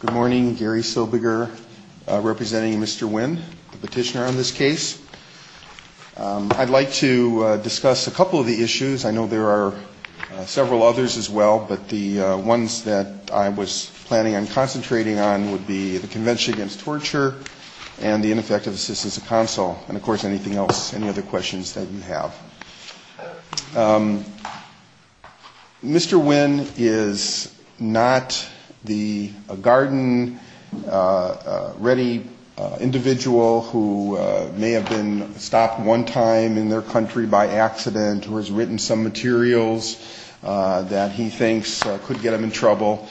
Good morning. Gary Sobiger representing Mr. Nguyen, petitioner on this case. I'd like to discuss a couple of the issues. I know there are several others as well, but the ones that I was planning on concentrating on would be the Convention Against Torture and the ineffective assistance of counsel, and, of course, anything else, any other questions that you have. Mr. Nguyen is not the garden-ready individual who may have been stopped one time in their country by accident or has written some materials that he thinks could get him in trouble.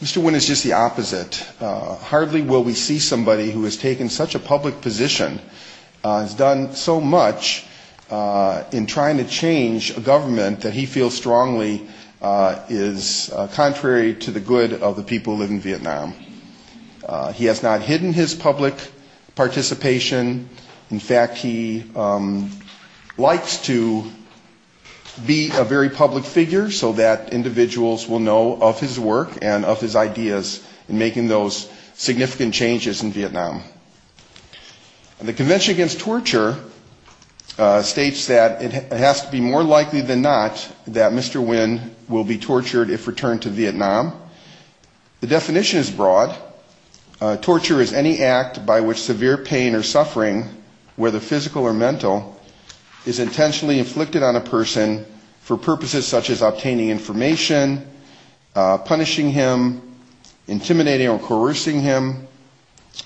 Mr. Nguyen is just the opposite. Hardly will we see somebody who has taken such a public position, has done so much in trying to change a government that he feels strongly is contrary to the good of the people who live in Vietnam. He has not hidden his public participation. In fact, he likes to be a very public figure so that individuals will know of his work and of his ideas in making those significant changes in Vietnam. The Convention Against Torture states that it has to be more likely than not that Mr. Nguyen will be tortured if returned to Vietnam. The definition is broad. Torture is any act by which severe pain or suffering, whether physical or mental, is intentionally inflicted on a person for purposes such as obtaining information, punishing him, intimidating or coercing him,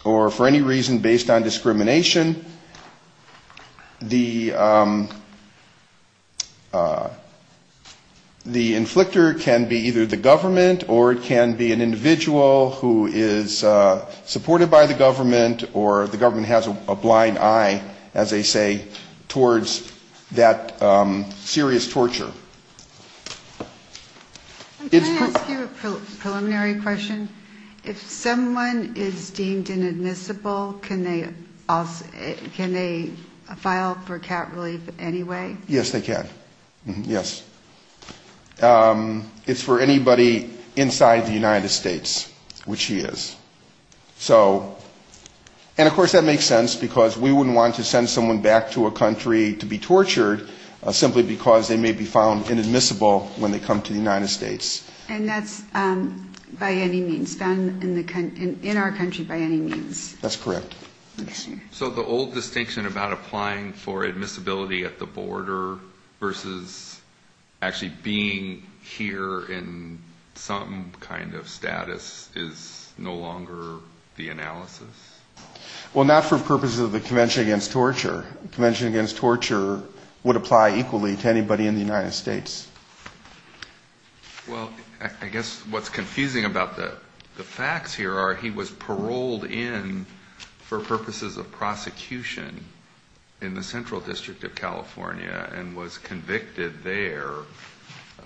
or for any reason based on discrimination. The inflictor can be either the government or it can be an individual who is supported by the government or the government has a blind eye, as they say, towards that serious torture. Thank you. Can I ask you a preliminary question? If someone is deemed inadmissible, can they file for cap relief anyway? Yes, they can. Yes. It's for anybody inside the United States, which he is. And of course that makes sense because we wouldn't want to send someone back to a country to be tortured simply because they may be found inadmissible when they come to the United States. And that's by any means done in our country by any means. That's correct. Interesting. So the old distinction about applying for admissibility at the border versus actually being here in some kind of status is no longer the analysis? Well, not for purposes of the Convention Against Torture. The Convention Against Torture would apply equally to anybody in the United States. Well, I guess what's confusing about the facts here are he was paroled in for purposes of prosecution in the Central District of California and was convicted there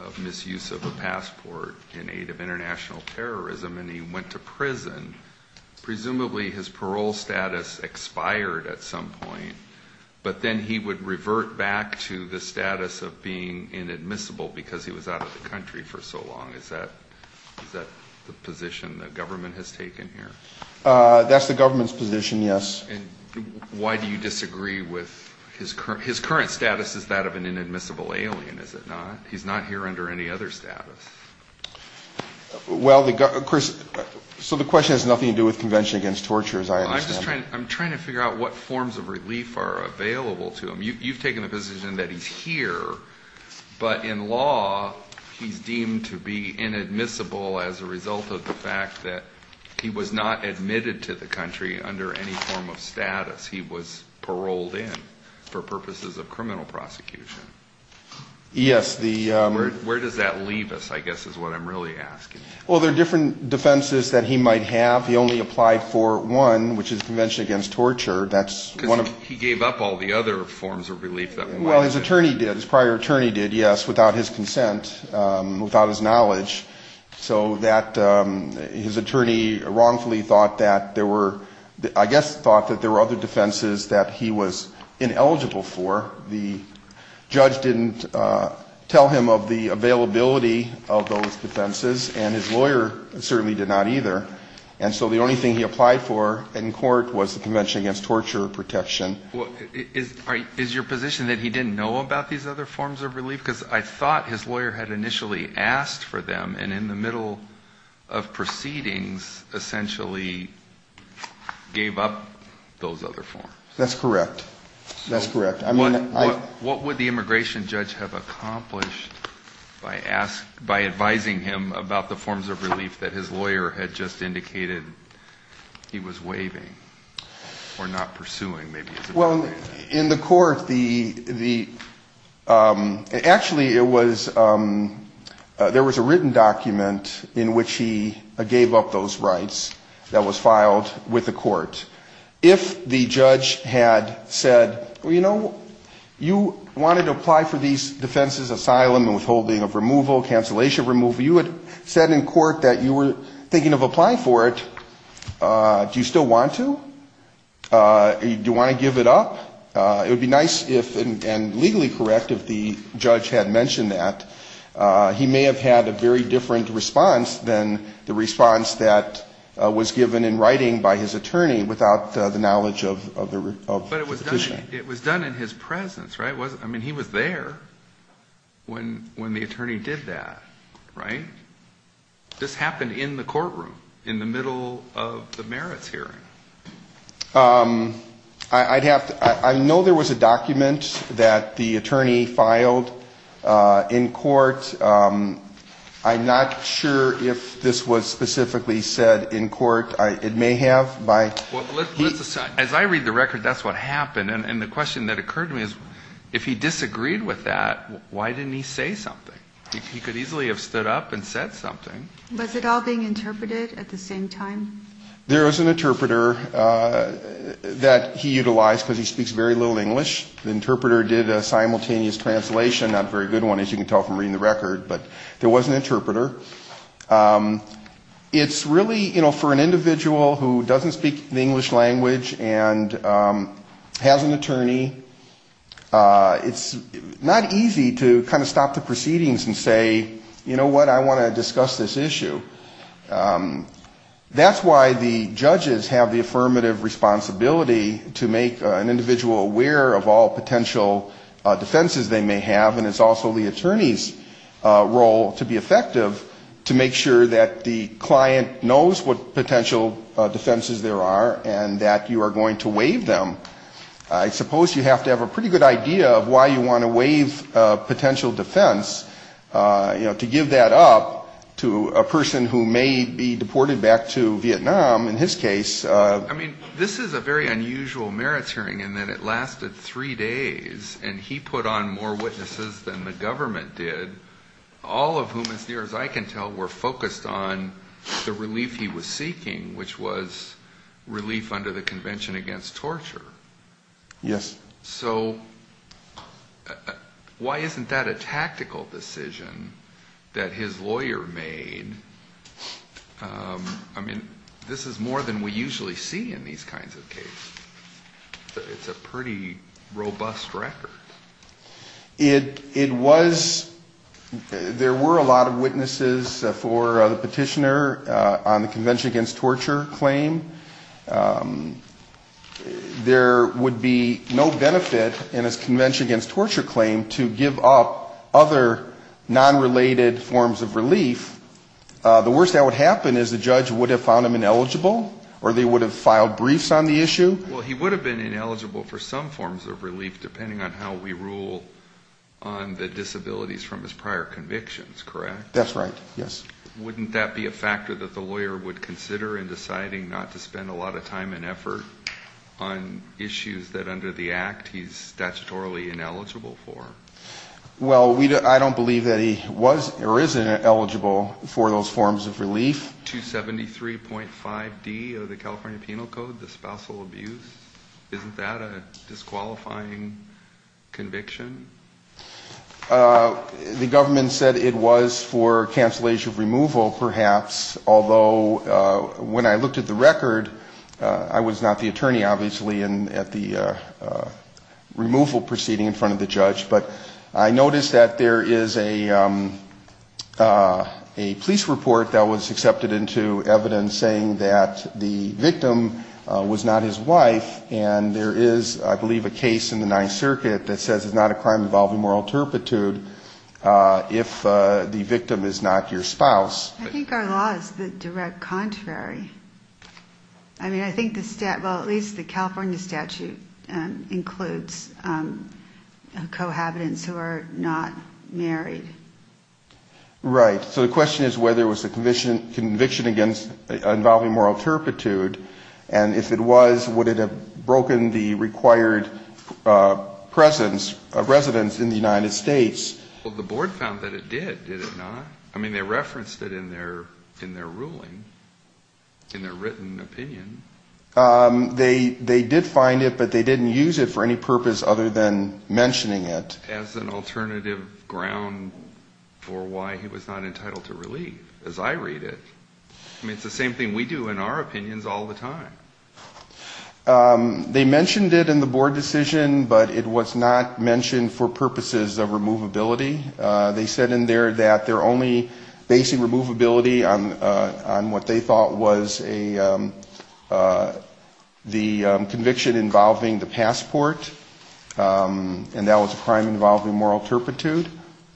of misuse of a passport in aid of international terrorism and he went to prison. Presumably his parole status expired at some point, but then he would revert back to the status of being inadmissible because he was out of the country for so long. Is that the position the government has taken here? That's the government's position, yes. And why do you disagree with his current status? Is that of an inadmissible alien? Is it not? He's not here under any other status. Well, of course, so the question has nothing to do with Convention Against Torture as I understand it. I'm trying to figure out what forms of relief are available to him. You've taken the position that he's here, but in law he's deemed to be inadmissible as a result of the fact that he was not admitted to the country under any form of status. He was paroled in for purposes of criminal prosecution. Yes. Where does that leave us, I guess, is what I'm really asking. Well, there are different defenses that he might have. He only applied for one, which is Convention Against Torture. He gave up all the other forms of relief that we might have. Well, his attorney did, his prior attorney did, yes, without his consent, without his knowledge. So his attorney wrongfully thought that there were other defenses that he was ineligible for. The judge didn't tell him of the availability of those defenses, and his lawyer certainly did not either. And so the only thing he applied for in court was the Convention Against Torture protection. Is your position that he didn't know about these other forms of relief? Because I thought his lawyer had initially asked for them, and in the middle of proceedings essentially gave up those other forms. That's correct. That's correct. What would the immigration judge have accomplished by advising him about the forms of relief that his lawyer had just indicated he was waiving or not pursuing? Well, in the court, actually, there was a written document in which he gave up those rights that was filed with the court. If the judge had said, well, you know, you wanted to apply for these defenses, asylum and withholding of removal, cancellation of removal, you had said in court that you were thinking of applying for it, do you still want to? Do you want to give it up? It would be nice and legally correct if the judge had mentioned that. He may have had a very different response than the response that was given in writing by his attorney without the knowledge of the decision. But it was done in his presence, right? I mean, he was there when the attorney did that, right? This happened in the courtroom in the middle of the merits hearing. I know there was a document that the attorney filed in court. I'm not sure if this was specifically said in court. It may have. As I read the record, that's what happened. And the question that occurred to me is, if he disagreed with that, why didn't he say something? He could easily have stood up and said something. Was it all being interpreted at the same time? There is an interpreter that he utilized because he speaks very little English. The interpreter did a simultaneous translation, not a very good one, as you can tell from reading the record. But there was an interpreter. It's really, you know, for an individual who doesn't speak the English language and has an attorney, it's not easy to kind of stop the proceedings and say, you know what, I want to discuss this issue. That's why the judges have the affirmative responsibility to make an individual aware of all potential defenses they may have. And it's also the attorney's role to be effective to make sure that the client knows what potential defenses there are and that you are going to waive them. I suppose you have to have a pretty good idea of why you want to waive a potential defense, you know, to give that up to a person who may be deported back to Vietnam, in his case. I mean, this is a very unusual merit hearing in that it lasted three days, and he put on more witnesses than the government did, all of whom, as near as I can tell, were focused on the relief he was seeking, which was relief under the Convention Against Torture. Yes. So why isn't that a tactical decision that his lawyer made? I mean, this is more than we usually see in these kinds of cases. It's a pretty robust record. It was – there were a lot of witnesses for the petitioner on the Convention Against Torture claim. There would be no benefit in a Convention Against Torture claim to give up other non-related forms of relief. The worst that would happen is the judge would have found him ineligible, or they would have filed briefs on the issue. Well, he would have been ineligible for some forms of relief, depending on how we rule on the disabilities from his prior convictions, correct? That's right, yes. Wouldn't that be a factor that the lawyer would consider in deciding not to spend a lot of time and effort on issues that, under the Act, he's statutorily ineligible for? Well, I don't believe that he was or is ineligible for those forms of relief. 273.5D of the California Penal Code, the spousal abuse, isn't that a disqualifying conviction? The government said it was for cancellation of removal, perhaps, although when I looked at the record, I was not the attorney, obviously, at the removal proceeding in front of the judge. But I noticed that there is a police report that was accepted into evidence saying that the victim was not his wife, and there is, I believe, a case in the Ninth Circuit that says it's not a crime involving moral turpitude if the victim is not your spouse. I think our law is the direct contrary. Well, at least the California statute includes cohabitants who are not married. Right. So the question is whether it was a conviction involving moral turpitude, and if it was, would it have broken the required presence of residents in the United States? Well, the board found that it did, did it not? I mean, they referenced it in their ruling, in their written opinion. They did find it, but they didn't use it for any purpose other than mentioning it. As an alternative ground for why he was not entitled to relief, as I read it. I mean, it's the same thing we do in our opinions all the time. They mentioned it in the board decision, but it was not mentioned for purposes of removability. They said in there that their only basic removability on what they thought was the conviction involving the passport, and that was a crime involving moral turpitude,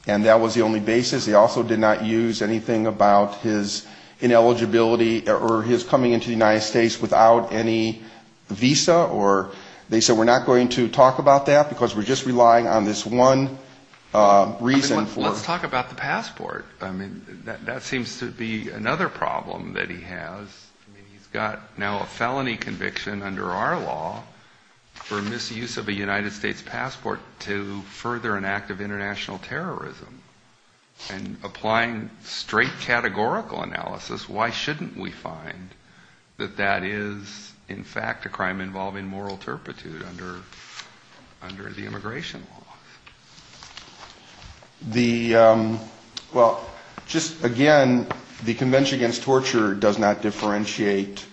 and that was the only basis. They also did not use anything about his ineligibility or his coming into the United States without any visa. They said we're not going to talk about that because we're just relying on this one reason. Let's talk about the passport. I mean, that seems to be another problem that he has. He's got now a felony conviction under our law for misuse of a United States passport to further an act of international terrorism. And applying straight categorical analysis, why shouldn't we find that that is, in fact, a crime involving moral turpitude under the immigration law? Well, just again, the Convention Against Torture does not differentiate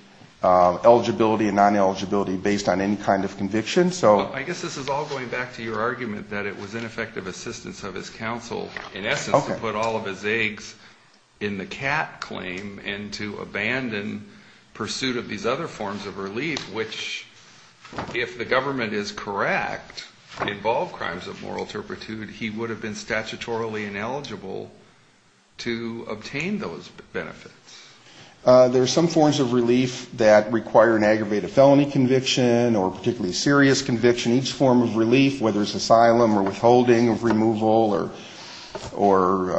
eligibility and non-eligibility based on any kind of conviction. I guess this is all going back to your argument that it was ineffective assistance of his counsel, in essence, to put all of his eggs in the cat claim and to abandon pursuit of these other forms of relief, which if the government is correct to involve crimes of moral turpitude, he would have been statutorily ineligible to obtain those benefits. There are some forms of relief that require an aggravated felony conviction or particularly a serious conviction. Each form of relief, whether it's asylum or withholding of removal or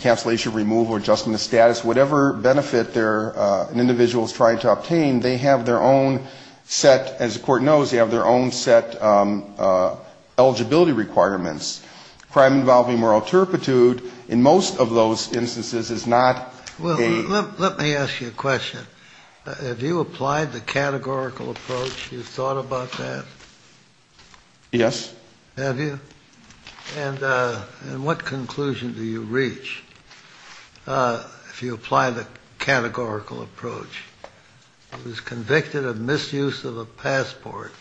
cancellation of removal or adjustment of status, whatever benefit an individual is trying to obtain, they have their own set, as the court knows, they have their own set eligibility requirements. Crime involving moral turpitude in most of those instances is not a... Well, let me ask you a question. Have you applied the categorical approach? Have you thought about that? Yes. Have you? And what conclusion do you reach if you apply the categorical approach? He was convicted of misuse of a passport,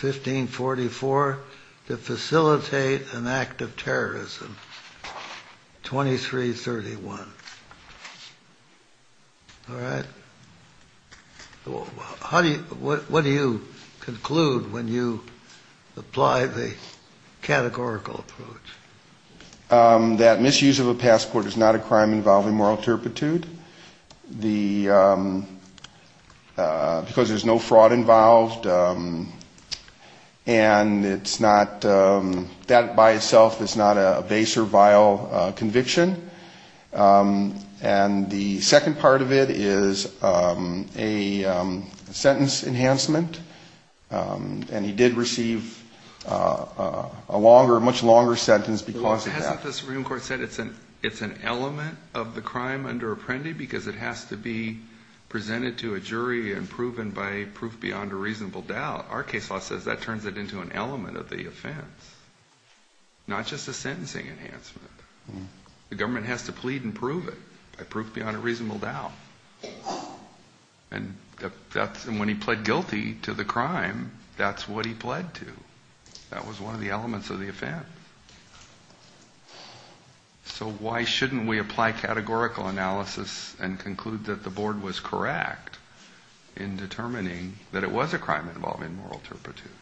1544, to facilitate an act of terrorism, 2331. All right. What do you conclude when you apply the categorical approach? That misuse of a passport is not a crime involving moral turpitude because there's no fraud involved and that by itself is not a base or vile conviction. And the second part of it is a sentence enhancement. And he did receive a much longer sentence because of that. The Supreme Court said it's an element of the crime under apprendee because it has to be presented to a jury and proven by proof beyond a reasonable doubt. Our case law says that turns it into an element of the offense, not just a sentencing enhancement. The government has to plead and prove it by proof beyond a reasonable doubt. And when he pled guilty to the crime, that's what he pled to. That was one of the elements of the offense. So why shouldn't we apply categorical analysis and conclude that the board was correct in determining that it was a crime involving moral turpitude?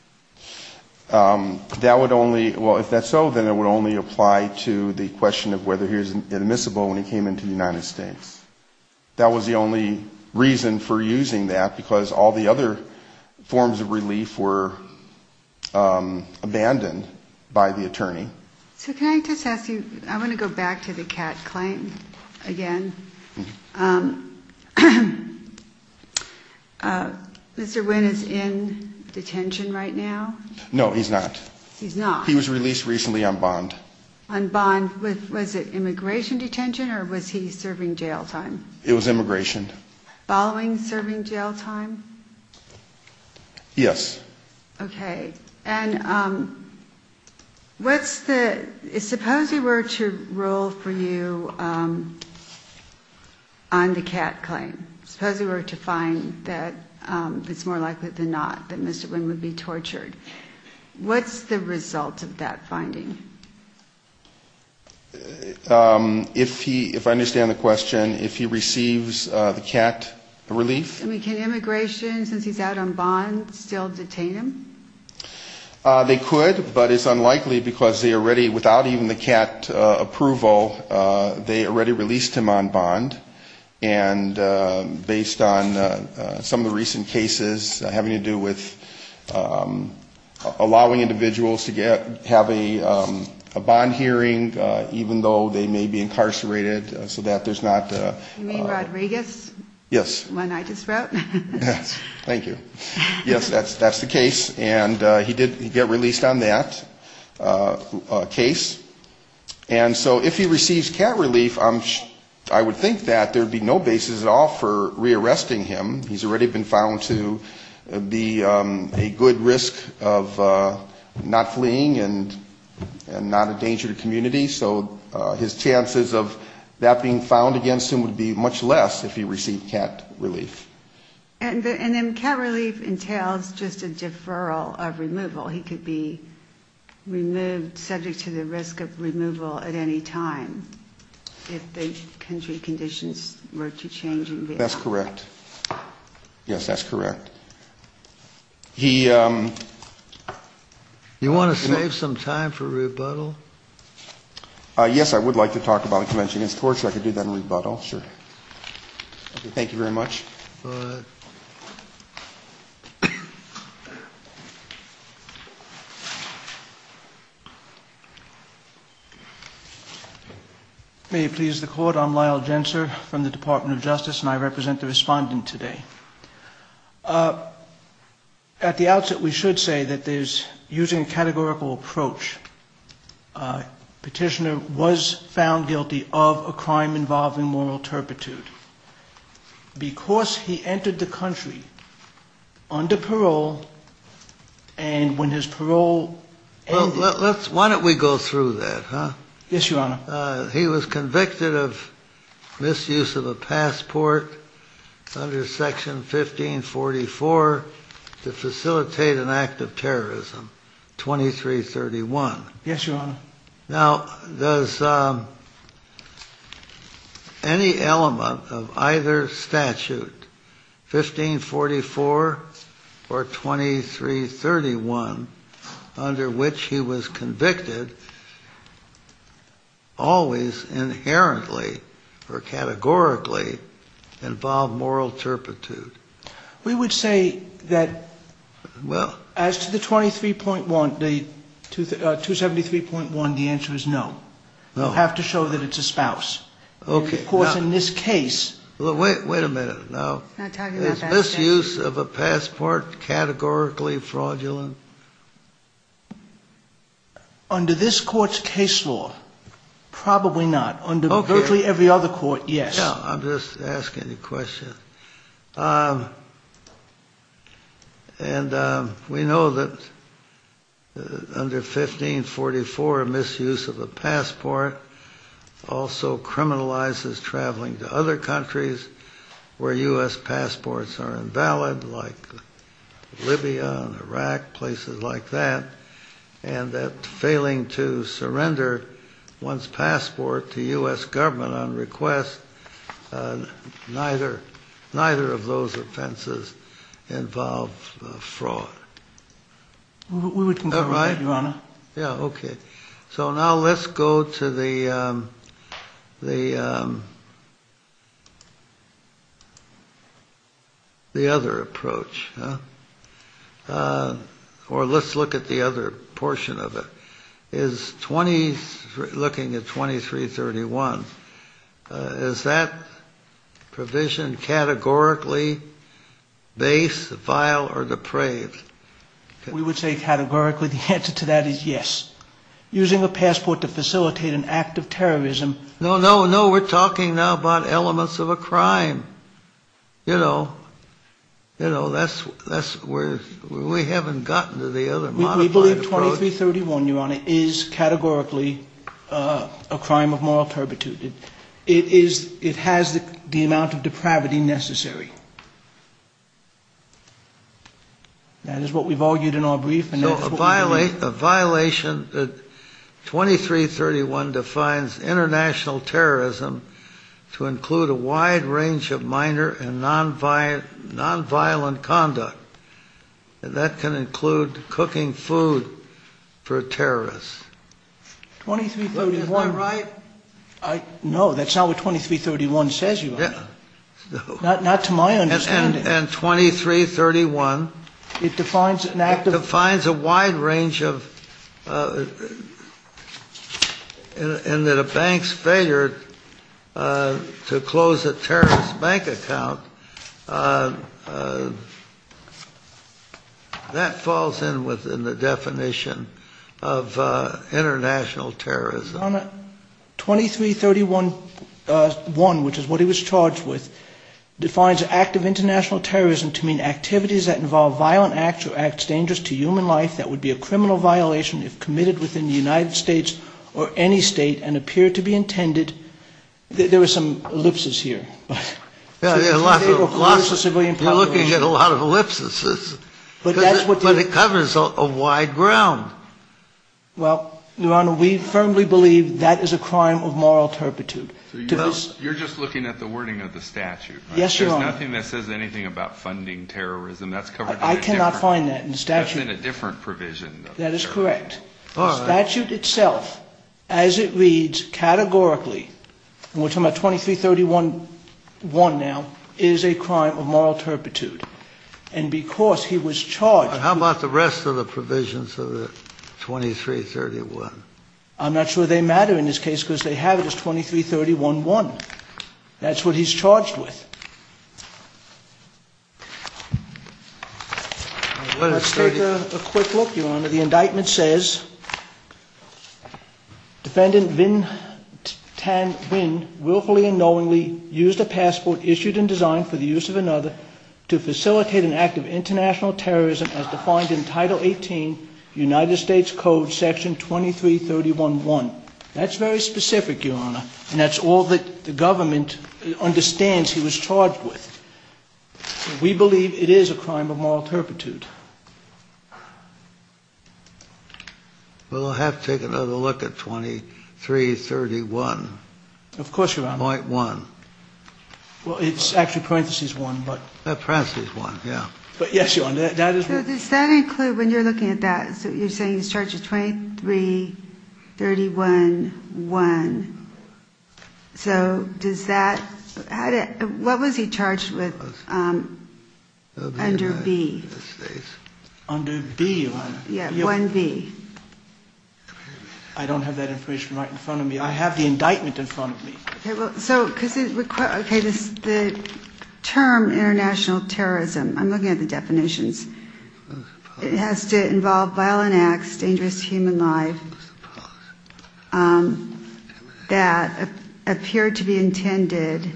Well, if that's so, then it would only apply to the question of whether he was admissible when he came into the United States. That was the only reason for using that because all the other forms of relief were abandoned by the attorney. So can I just ask you, I want to go back to the Kat claim again. Mr. Wynn is in detention right now? No, he's not. He's not? He was released recently on bond. On bond, was it immigration detention or was he serving jail time? It was immigration. Following serving jail time? Yes. Okay. Suppose we were to roll for you on the Kat claim. Suppose we were to find that it's more likely than not that Mr. Wynn would be tortured. What's the result of that finding? If I understand the question, if he receives the Kat relief? I mean, can immigration, since he's out on bond, still detain him? They could, but it's unlikely because they already, without even the Kat approval, they already released him on bond. And based on some of the recent cases having to do with allowing individuals to have a bond hearing even though they may be incarcerated so that there's not... You mean Rodriguez? Yes. The one I just wrote? Thank you. Yes, that's the case. And he did get released on that case. And so if he receives Kat relief, I would think that there would be no basis at all for rearresting him. He's already been found to be a good risk of not fleeing and not a danger to community. So his chances of that being found against him would be much less if he received Kat relief. And then Kat relief entails just a deferral of removal. He could be removed, subject to the risk of removal at any time if the country conditions were to change. That's correct. Yes, that's correct. You want to save some time for rebuttal? Yes, I would like to talk about a convention against torture. I could do that in rebuttal, sure. Thank you very much. May it please the Court, I'm Lyle Gensler from the Department of Justice, and I represent the respondent today. At the outset, we should say that there's, using a categorical approach, a petitioner was found guilty of a crime involved in moral turpitude. Because he entered the country under parole, and when his parole ended... Why don't we go through that, huh? Yes, Your Honor. He was convicted of misuse of a passport under Section 1544 to facilitate an act of terrorism, 2331. Yes, Your Honor. Now, any element of either statute, 1544 or 2331, under which he was convicted, always inherently or categorically involved moral turpitude. We would say that as to the 273.1, the answer is no. You have to show that it's a spouse. Of course, in this case... Wait a minute. Is misuse of a passport categorically fraudulent? Under this Court's case law, probably not. Under virtually every other Court, yes. I'm just asking a question. And we know that under 1544, misuse of a passport also criminalizes traveling to other countries where U.S. passports are invalid, like Libya and Iraq, places like that. And that failing to surrender one's passport to U.S. government on request, neither of those offenses involve fraud. We can go ahead, Your Honor. Yeah, okay. So now let's go to the other approach. Or let's look at the other portion of it. Looking at 2331, is that provision categorically base, vile, or depraved? We would say categorically. The answer to that is yes. Using a passport to facilitate an act of terrorism... No, no, no. We're talking now about elements of a crime. You know, that's where we haven't gotten to the other modified approach. We believe 2331, Your Honor, is categorically a crime of moral turpitude. It has the amount of depravity necessary. That is what we've argued in our brief. A violation that 2331 defines international terrorism to include a wide range of minor and nonviolent conduct. And that can include cooking food for terrorists. 2331... Is that right? No, that's not what 2331 says, Your Honor. Not to my understanding. And 2331... It defines an act of... It defines a wide range of... And that a bank's failure to close a terrorist bank account... That falls in within the definition of international terrorism. Your Honor, 2331-1, which is what he was charged with, defines an act of international terrorism to mean activities that involve violent acts or acts dangerous to human life that would be a criminal violation if committed within the United States or any state and appear to be intended... There are some ellipses here. We're looking at a lot of ellipses. But it covers a wide ground. Well, Your Honor, we firmly believe that is a crime of moral turpitude. You're just looking at the wording of the statute. Yes, Your Honor. There's nothing that says anything about funding terrorism. I cannot find that in the statute. That's in a different provision. That is correct. The statute itself, as it reads categorically, and we're talking about 2331-1 now, is a crime of moral turpitude. And because he was charged... How about the rest of the provisions of the 2331? I'm not sure they matter in this case because they have it as 2331-1. That's what he's charged with. Let's take a quick look, Your Honor. The indictment says, That's very specific, Your Honor. And that's all that the government understands he was charged with. We believe it is a crime of moral turpitude. Well, we'll have to take another look at 2331. Of course, Your Honor. Point one. Well, it's after parenthesis one, but... Parenthesis one, yeah. But yes, Your Honor, that is... So does that include, when you're looking at that, you're saying he's charged with 2331-1. So does that... What was he charged with under B? Under B, Your Honor? Yeah, 1B. I don't have that information right in front of me. I have the indictment in front of me. Okay, well, so... The term international terrorism... I'm looking at the definitions. It has to involve violent acts, dangerous to human lives. That appear to be intended...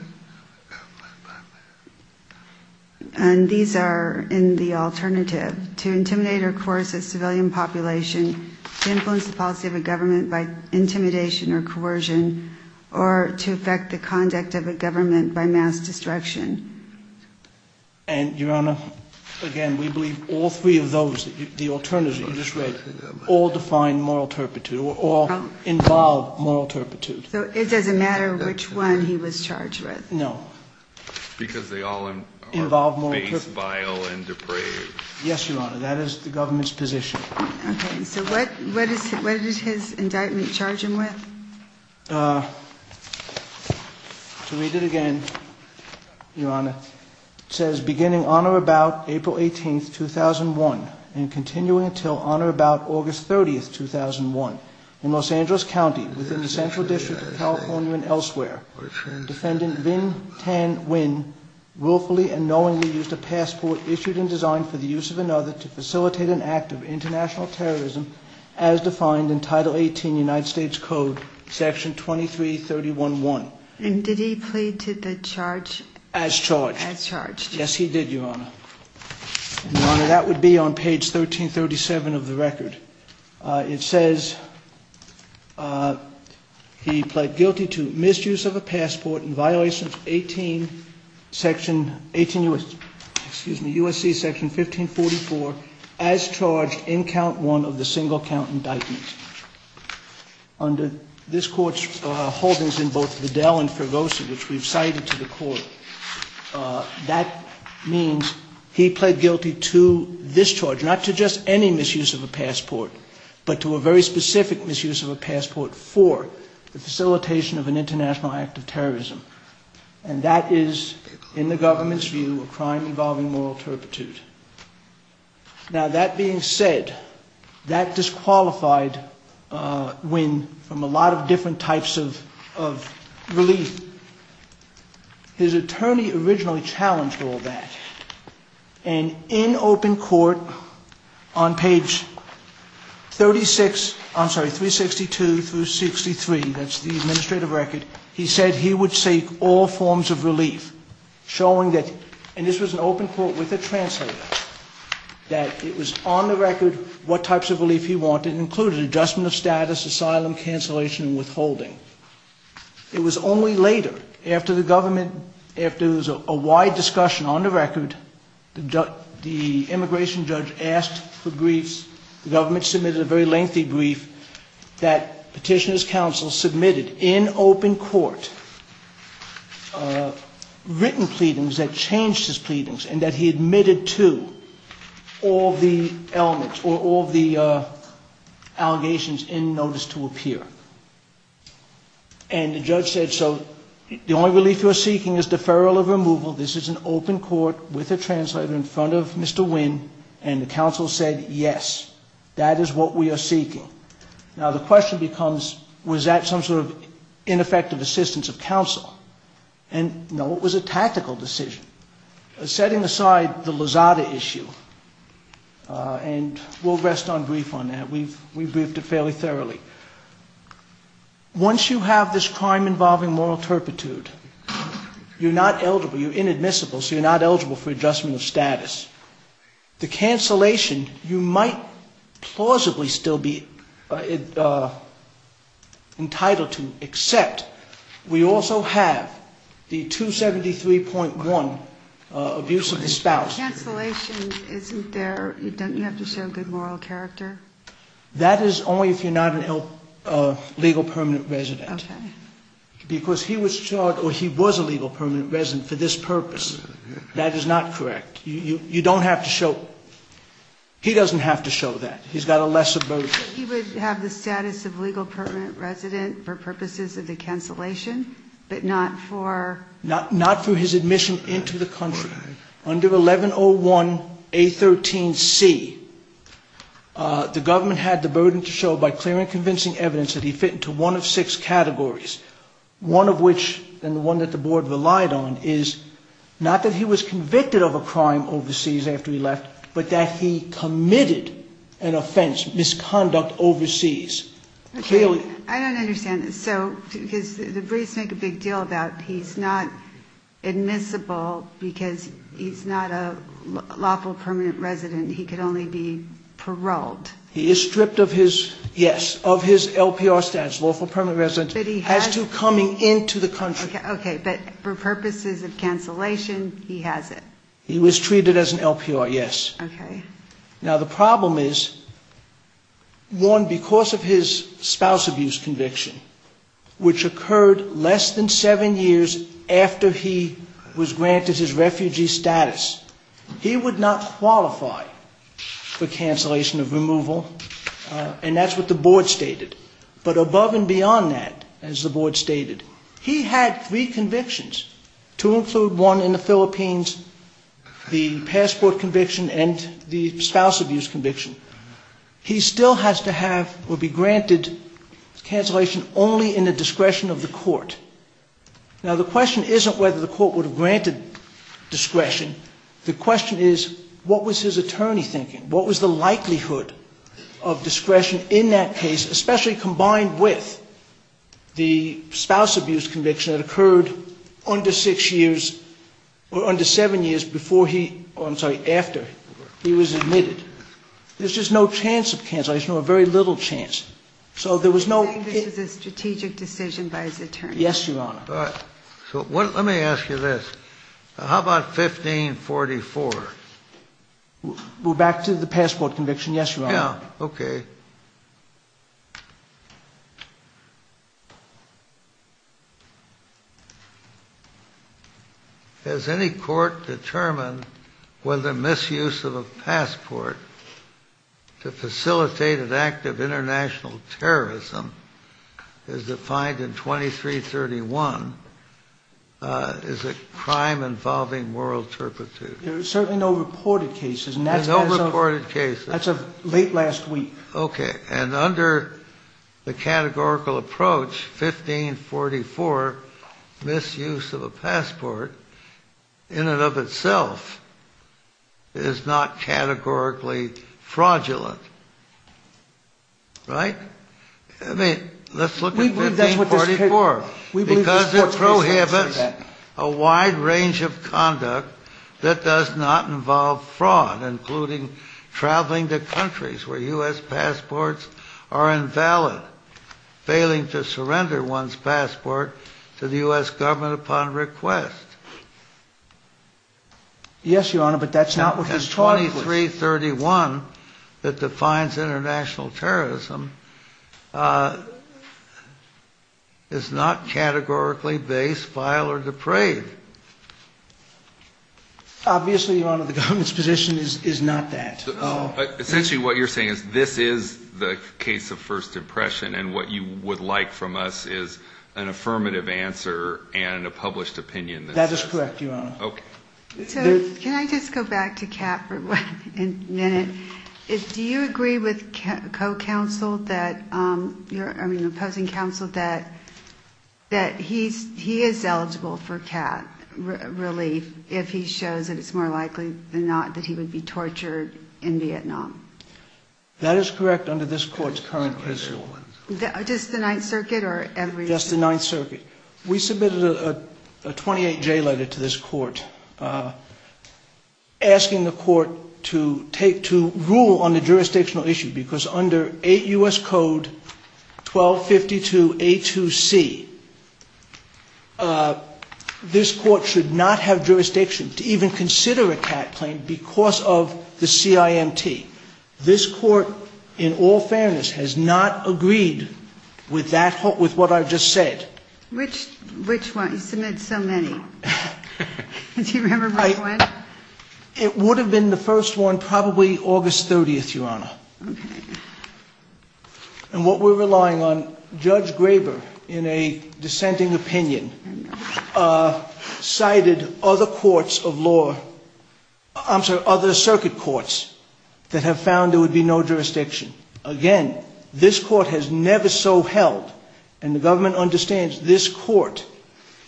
And these are in the alternative. To intimidate or coerce a civilian population. To influence the policy of a government by intimidation or coercion. Or to affect the conduct of a government by mass destruction. And, Your Honor, again, we believe all three of those, the alternative you just read, all define moral turpitude. Or involve moral turpitude. So it doesn't matter which one he was charged with? No. Because they all... Involve moral turpitude. Face, bile, and deprave. Yes, Your Honor, that is the government's position. Okay, so what is his indictment charging with? To read it again, Your Honor, it says, Beginning on or about April 18, 2001, and continuing until on or about August 30, 2001, in Los Angeles County, within the Central District of California and elsewhere, Defendant Vin Tan Nguyen willfully and knowingly used a passport issued and designed for the use of another to facilitate an act of international terrorism as defined in Title 18 United States Code, Section 2331-1. And did he plead to the charge? As charged. As charged. Yes, he did, Your Honor. Your Honor, that would be on page 1337 of the record. It says, he pled guilty to misuse of a passport in violation of 18, section, 18, excuse me, U.S.C. Section 1544, as charged in count one of the single count indictments. Under this court's holdings in both Vidal and Pervosa, which we've cited to the court, that means he pled guilty to this charge, not to just any misuse of a passport, but to a very specific misuse of a passport for the facilitation of an international act of terrorism. And that is, in the government's view, a crime involving moral turpitude. Now, that being said, that disqualified Wynn from a lot of different types of relief. His attorney originally challenged all that. And in open court, on page 36, I'm sorry, 362 through 63, that's the administrative record, he said he would seek all forms of relief, showing that, and this was an open court with a translator, that it was on the record what types of relief he wanted, including adjustment of status, asylum, cancellation, and withholding. It was only later, after the government, after there was a wide discussion on the record, the immigration judge asked for briefs, the government submitted a very lengthy brief, that petitioner's counsel submitted in open court written pleadings that changed his pleadings, and that he admitted to all the elements, or all the allegations in notice to appear. And the judge said, so the only relief you are seeking is deferral of removal, this is an open court with a translator in front of Mr. Wynn, and the counsel said, yes, that is what we are seeking. Now the question becomes, was that some sort of ineffective assistance of counsel? And no, it was a tactical decision. Setting aside the Lozada issue, and we'll rest on brief on that, we briefed it fairly thoroughly. Once you have this crime involving moral turpitude, you're not eligible, you're inadmissible, the cancellation, you might plausibly still be entitled to, except we also have the 273.1, abuse of his spouse. Cancellation isn't there, it doesn't necessarily have good moral character? That is only if you're not a legal permanent resident. Because he was charged, or he was a legal permanent resident for this purpose. That is not correct. You don't have to show, he doesn't have to show that, he's got a lesser burden. He would have the status of legal permanent resident for purposes of the cancellation, but not for... Not for his admission into the country. Under 1101A13C, the government had the burden to show by clear and convincing evidence that he fit into one of six categories. One of which, and the one that the board relied on, is not that he was convicted of a crime overseas after he left, but that he committed an offense, misconduct overseas. I don't understand, so the briefs make a big deal about he's not admissible because he's not a lawful permanent resident, he could only be paroled. He is stripped of his, yes, of his LPR status, lawful permanent resident. As to coming into the country. Okay, but for purposes of cancellation, he has it. He was treated as an LPR, yes. Okay. Now the problem is, one, because of his spouse abuse conviction, which occurred less than seven years after he was granted his refugee status, he would not qualify for cancellation of removal, and that's what the board stated. But above and beyond that, as the board stated, he had three convictions. Two in third one in the Philippines, the passport conviction and the spouse abuse conviction. He still has to have or be granted cancellation only in the discretion of the court. Now the question isn't whether the court would have granted discretion. The question is, what was his attorney thinking? What was the likelihood of discretion in that case, especially combined with the spouse abuse conviction that occurred under six years or under seven years before he, oh, I'm sorry, after he was admitted? There's just no chance of cancellation, or very little chance. So there was no. It was a strategic decision by his attorney. Yes, Your Honor. All right. So let me ask you this. How about 1544? Go back to the passport conviction. Yes, Your Honor. Yeah. Okay. Has any court determined whether misuse of a passport to facilitate an act of international terrorism is defined in 2331? Is it crime involving moral turpitude? There are certainly no reported cases. No reported cases. That's of late last week. Okay. And under the categorical approach, 1544, misuse of a passport in and of itself is not categorically fraudulent. Right? I mean, let's look at 1544. Because it prohibits a wide range of conduct that does not involve fraud, including traveling to countries where U.S. passports are invalid, failing to surrender one's passport to the U.S. government upon request. Yes, Your Honor, but that's not what this clause was. 1541 that defines international terrorism is not categorically based, vile, or depraved. Obviously, Your Honor, the government's position is not that. Essentially what you're saying is this is the case of First Depression, and what you would like from us is an affirmative answer and a published opinion. That is correct, Your Honor. Okay. So, can I just go back to Kat for one minute? Do you agree with co-counsel, your opposing counsel, that he is eligible for Kat's release if he shows that it's more likely than not that he would be tortured in Vietnam? That is correct under this court's current principle. Just the Ninth Circuit or every court? Just the Ninth Circuit. We submitted a 28-J letter to this court asking the court to rule on the jurisdictional issue because under 8 U.S. Code 1252A2C, this court should not have jurisdiction to even consider a Kat claim because of the CIMT. This court, in all fairness, has not agreed with what I've just said. Which one? You've submitted so many. Do you remember which one? It would have been the first one probably August 30th, Your Honor. Okay. And what we're relying on, Judge Graber, in a dissenting opinion, cited other courts of law, I'm sorry, other circuit courts that have found there would be no jurisdiction. Again, this court has never so held, and the government understands this court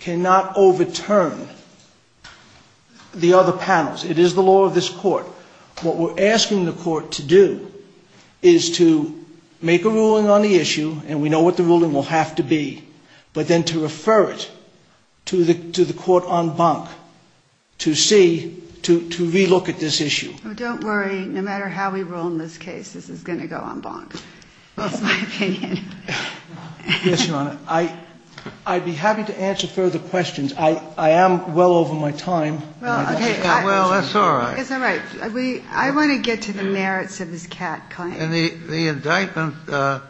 cannot overturn the other panels. It is the law of this court. What we're asking the court to do is to make a ruling on the issue, and we know what the ruling will have to be, but then to refer it to the court en banc to see, to re-look at this issue. Don't worry. No matter how we rule in this case, this is going to go en banc, in my opinion. Yes, Your Honor. I'd be happy to answer further questions. I am well over my time. Well, that's all right. I want to get to the merits of this CAC claim. The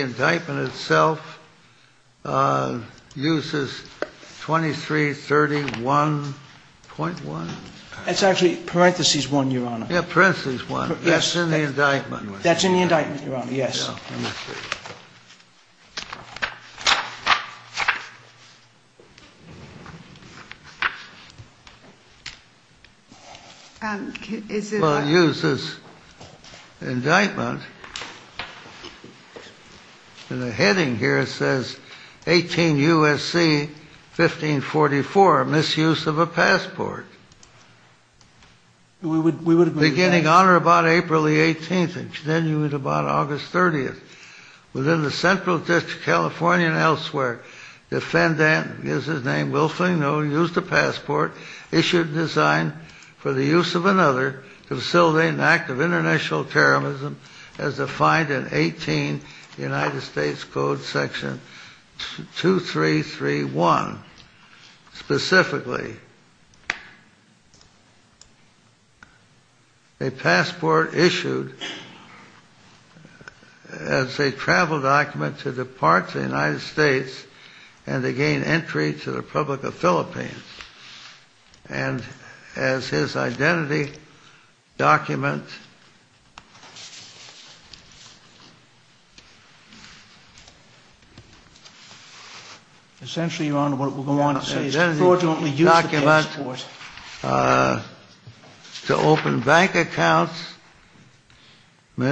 indictment itself uses 2331.1. That's actually parentheses one, Your Honor. Yeah, parentheses one. That's in the indictment. That's in the indictment, Your Honor. Yes. Well, I'll use this indictment. In the heading here, it says 18 U.S.C. 1544, Misuse of a Passport. Beginning on or about April the 18th? Then it was about August 30th. Within the central district of California and elsewhere, the defendant, his name is Wilfring Noe, used a passport issued in design for the use of another to facilitate an act of international terrorism as defined in 18 U.S.C. 2331. Specifically, a passport issued as a travel document to depart to the United States and to gain entry to the Republic of Philippines. And as his identity document... Essentially, Your Honor, what we're going to want to say is... His identity document to open bank accounts. I mean,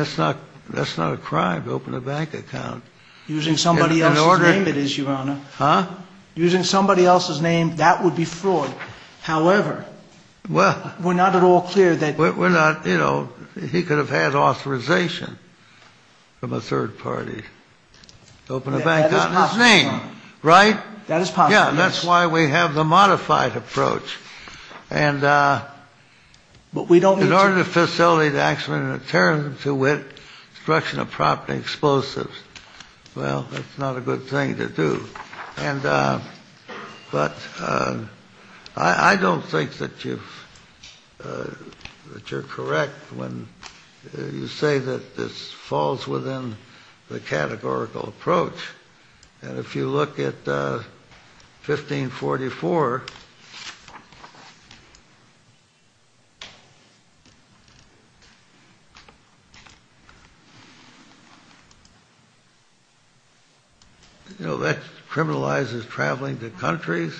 that's not a crime to open a bank account. Using somebody else's name, it is, Your Honor. Huh? Using somebody else's name, that would be fraud. However, we're not at all clear that... Well, we're not, you know, he could have had authorization from a third party to open a bank account in his name, right? That is possible. Yeah, that's why we have the modified approach. And in order to facilitate an act of international terrorism to wit, destruction of property, explosives, well, that's not a good thing to do. But I don't think that you're correct when you say that this falls within the categorical approach. And if you look at 1544... You know, that criminalizes traveling to countries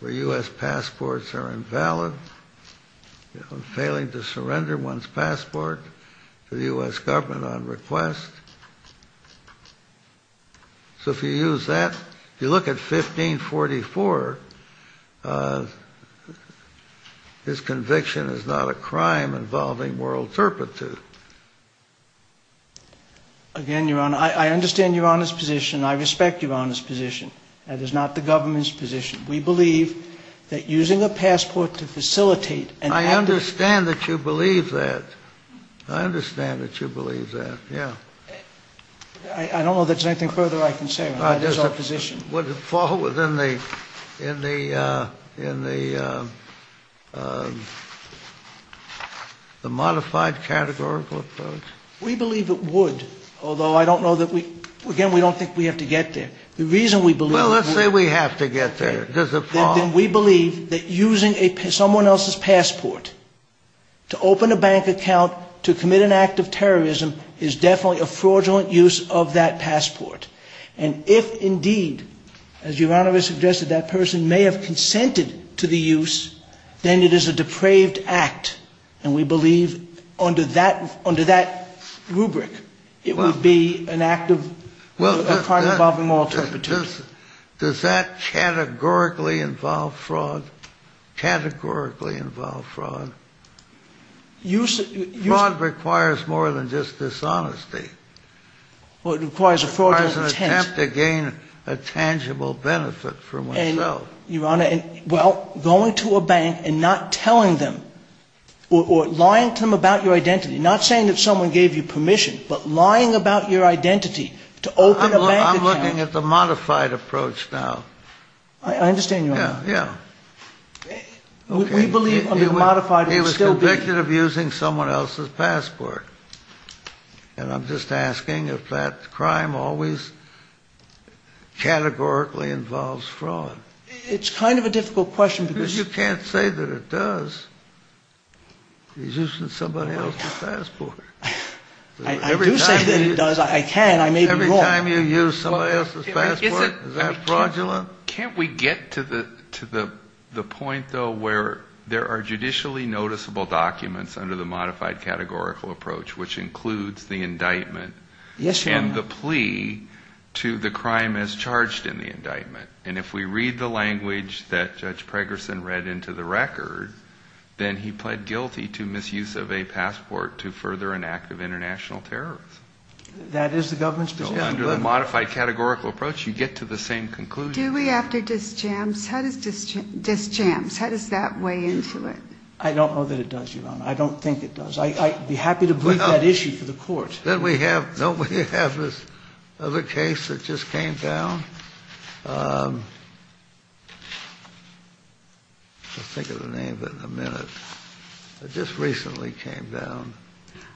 where U.S. passports are invalid, failing to surrender one's passport to the U.S. government on request. So if you use that... If you look at 1544, his conviction is not a crime involving moral turpitude. Again, Your Honor, I understand Your Honor's position. I respect Your Honor's position. That is not the government's position. We believe that using a passport to facilitate... I understand that you believe that. I understand that you believe that, yeah. I don't know if there's anything further I can say about this opposition. Would it fall within the modified categorical approach? We believe it would, although I don't know that we... Again, we don't think we have to get there. The reason we believe... Well, let's say we have to get there. Then we believe that using someone else's passport to open a bank account to commit an act of terrorism is definitely a fraudulent use of that passport. And if indeed, as Your Honor has suggested, that person may have consented to the use, then it is a depraved act, and we believe under that rubric, it would be an act of crime involving moral turpitude. Does that categorically involve fraud? Categorically involve fraud? Fraud requires more than just dishonesty. Well, it requires a fraudulent attempt. It requires an attempt to gain a tangible benefit for oneself. Your Honor, well, going to a bank and not telling them, or lying to them about your identity, not saying that someone gave you permission, but lying about your identity to open a bank account... I'm looking at the modified approach now. I understand you now. Yeah, yeah. We believe under the modified... He was convicted of using someone else's passport. And I'm just asking if that crime always categorically involves fraud. It's kind of a difficult question because... You can't say that it does. He's using somebody else's passport. I do say that it does. I can. I may be wrong. Every time you use someone else's passport, is that fraudulent? Can't we get to the point, though, where there are judicially noticeable documents under the modified categorical approach, which includes the indictment... Yes, Your Honor. ...and the plea to the crime as charged in the indictment. And if we read the language that Judge Pregerson read into the record, then he pled guilty to misuse of a passport to further an act of international terrorism. That is the government's position. Under the modified categorical approach, you get to the same conclusion. Do we have to dischance? How does that weigh into it? I don't know that it does, Your Honor. I don't think it does. I'd be happy to bring that issue to the courts. Don't we have this other case that just came down? I'll think of the names in a minute. It just recently came down.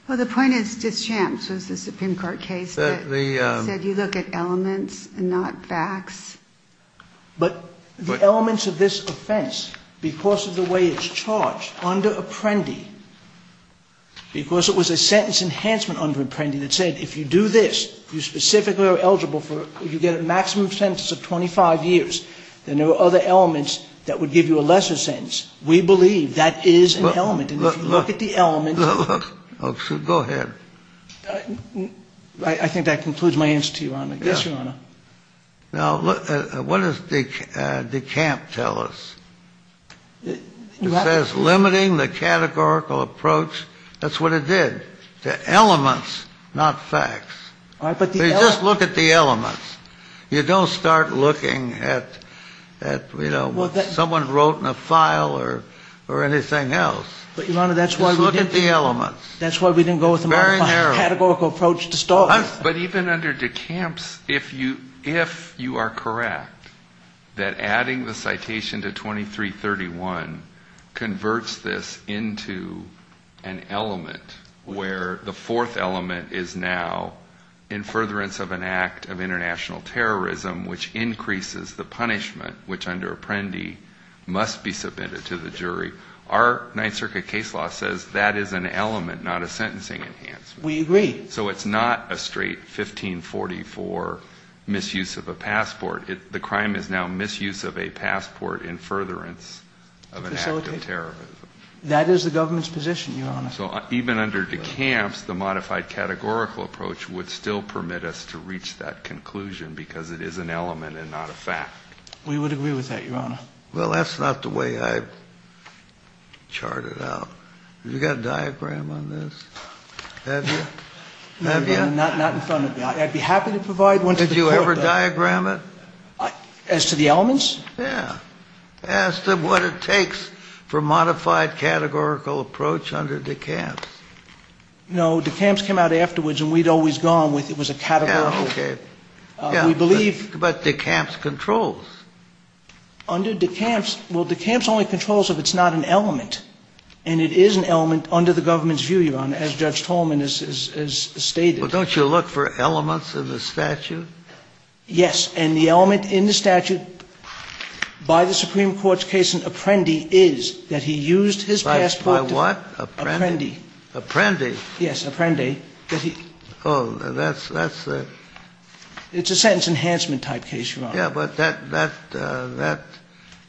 Well, the point is dischance. This is a FinCorp case. That you look at elements and not facts. But the elements of this offense, because of the way it's charged under Apprendi, because it was a sentence enhancement under Apprendi that said, if you do this, you specifically are eligible for... you get a maximum sentence of 25 years, then there are other elements that would give you a lesser sentence. We believe that is an element. Go ahead. I think that concludes my answer to you, Your Honor. Yes, Your Honor. Now, what does DeCamp tell us? It says limiting the categorical approach. That's what it did. The elements, not facts. Just look at the elements. You don't start looking at, you know, what someone wrote in a file or anything else. But, Your Honor, that's why we didn't... Just look at the elements. That's why we didn't go with a more categorical approach to start with. But even under DeCamp's, if you are correct that adding the citation to 2331 converts this into an element where the fourth element is now in furtherance of an act of international terrorism, which increases the punishment, which under Apprendi must be submitted to the jury, our Ninth Circuit case law says that is an element, not a sentencing enhancement. We agree. So it's not a straight 1544 misuse of a passport. The crime is now misuse of a passport in furtherance of an act of terrorism. That is the government's position, Your Honor. So even under DeCamp's, the modified categorical approach would still permit us to reach that conclusion because it is an element and not a fact. We would agree with that, Your Honor. Well, that's not the way I chart it out. Have you got a diagram on this? Have you? Not in front of me. I'd be happy to provide one. Did you ever diagram it? As to the elements? Yeah. Ask them what it takes for modified categorical approach under DeCamp's. No, DeCamp's came out afterwards and we'd always gone with it was a categorical... Yeah, okay. We believe... But DeCamp's controls. Under DeCamp's, well, DeCamp's only controls if it's not an element, and it is an element under the government's view, Your Honor, as Judge Tolman has stated. Well, don't you look for elements in the statute? Yes, and the element in the statute by the Supreme Court's case in Apprendi is that he used his passport to... By what? Apprendi. Apprendi. Yes, Apprendi. Oh, that's... It's a sentence enhancement type case, Your Honor. Yeah, but that...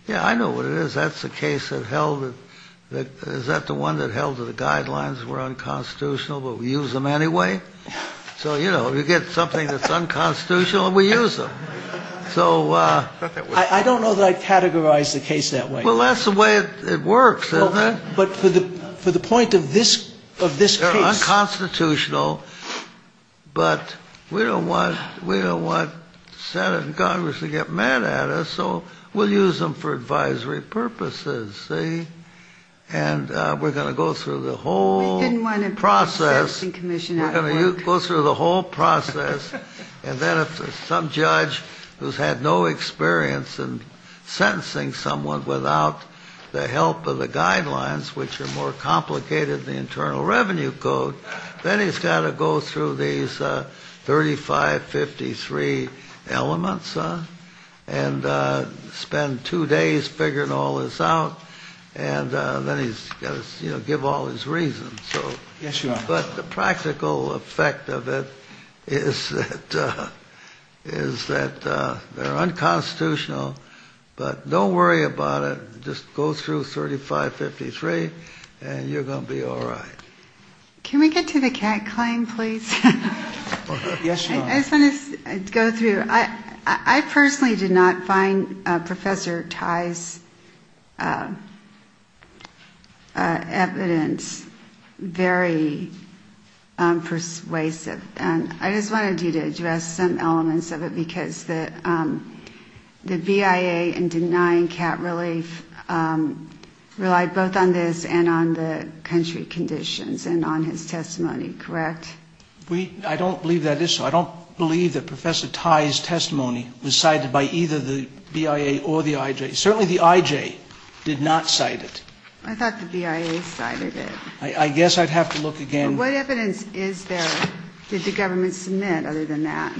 Yeah, I know what it is. That's the case that held... Is that the one that held that the guidelines were unconstitutional but we use them anyway? So, you know, you get something that's unconstitutional and we use them. So... I don't know that I'd categorize the case that way. Well, that's the way it works, isn't it? But for the point of this case... Unconstitutional, but we don't want Senate and Congress to get mad at us, so we'll use them for advisory purposes, see? And we're going to go through the whole process. We're going to go through the whole process. And then if some judge who's had no experience in sentencing someone without the help of the guidelines, which are more complicated than the Internal Revenue Code, then he's got to go through these 3553 elements and spend two days figuring all this out, and then he's got to, you know, give all his reasons, so... Yes, Your Honor. But the practical effect of it is that they're unconstitutional, but don't worry about it. Just go through 3553 and you're going to be all right. Can we get to the cat claim, please? Yes, Your Honor. I just want to go through. I personally did not find Professor Tai's evidence very persuasive. I just wanted you to address some elements of it because the BIA in denying cat relief relied both on this and on the country conditions and on his testimony, correct? I don't believe that is so. I don't believe that Professor Tai's testimony was cited by either the BIA or the IJ. Certainly the IJ did not cite it. I thought the BIA cited it. I guess I'd have to look again. What evidence is there that the government submitted other than that?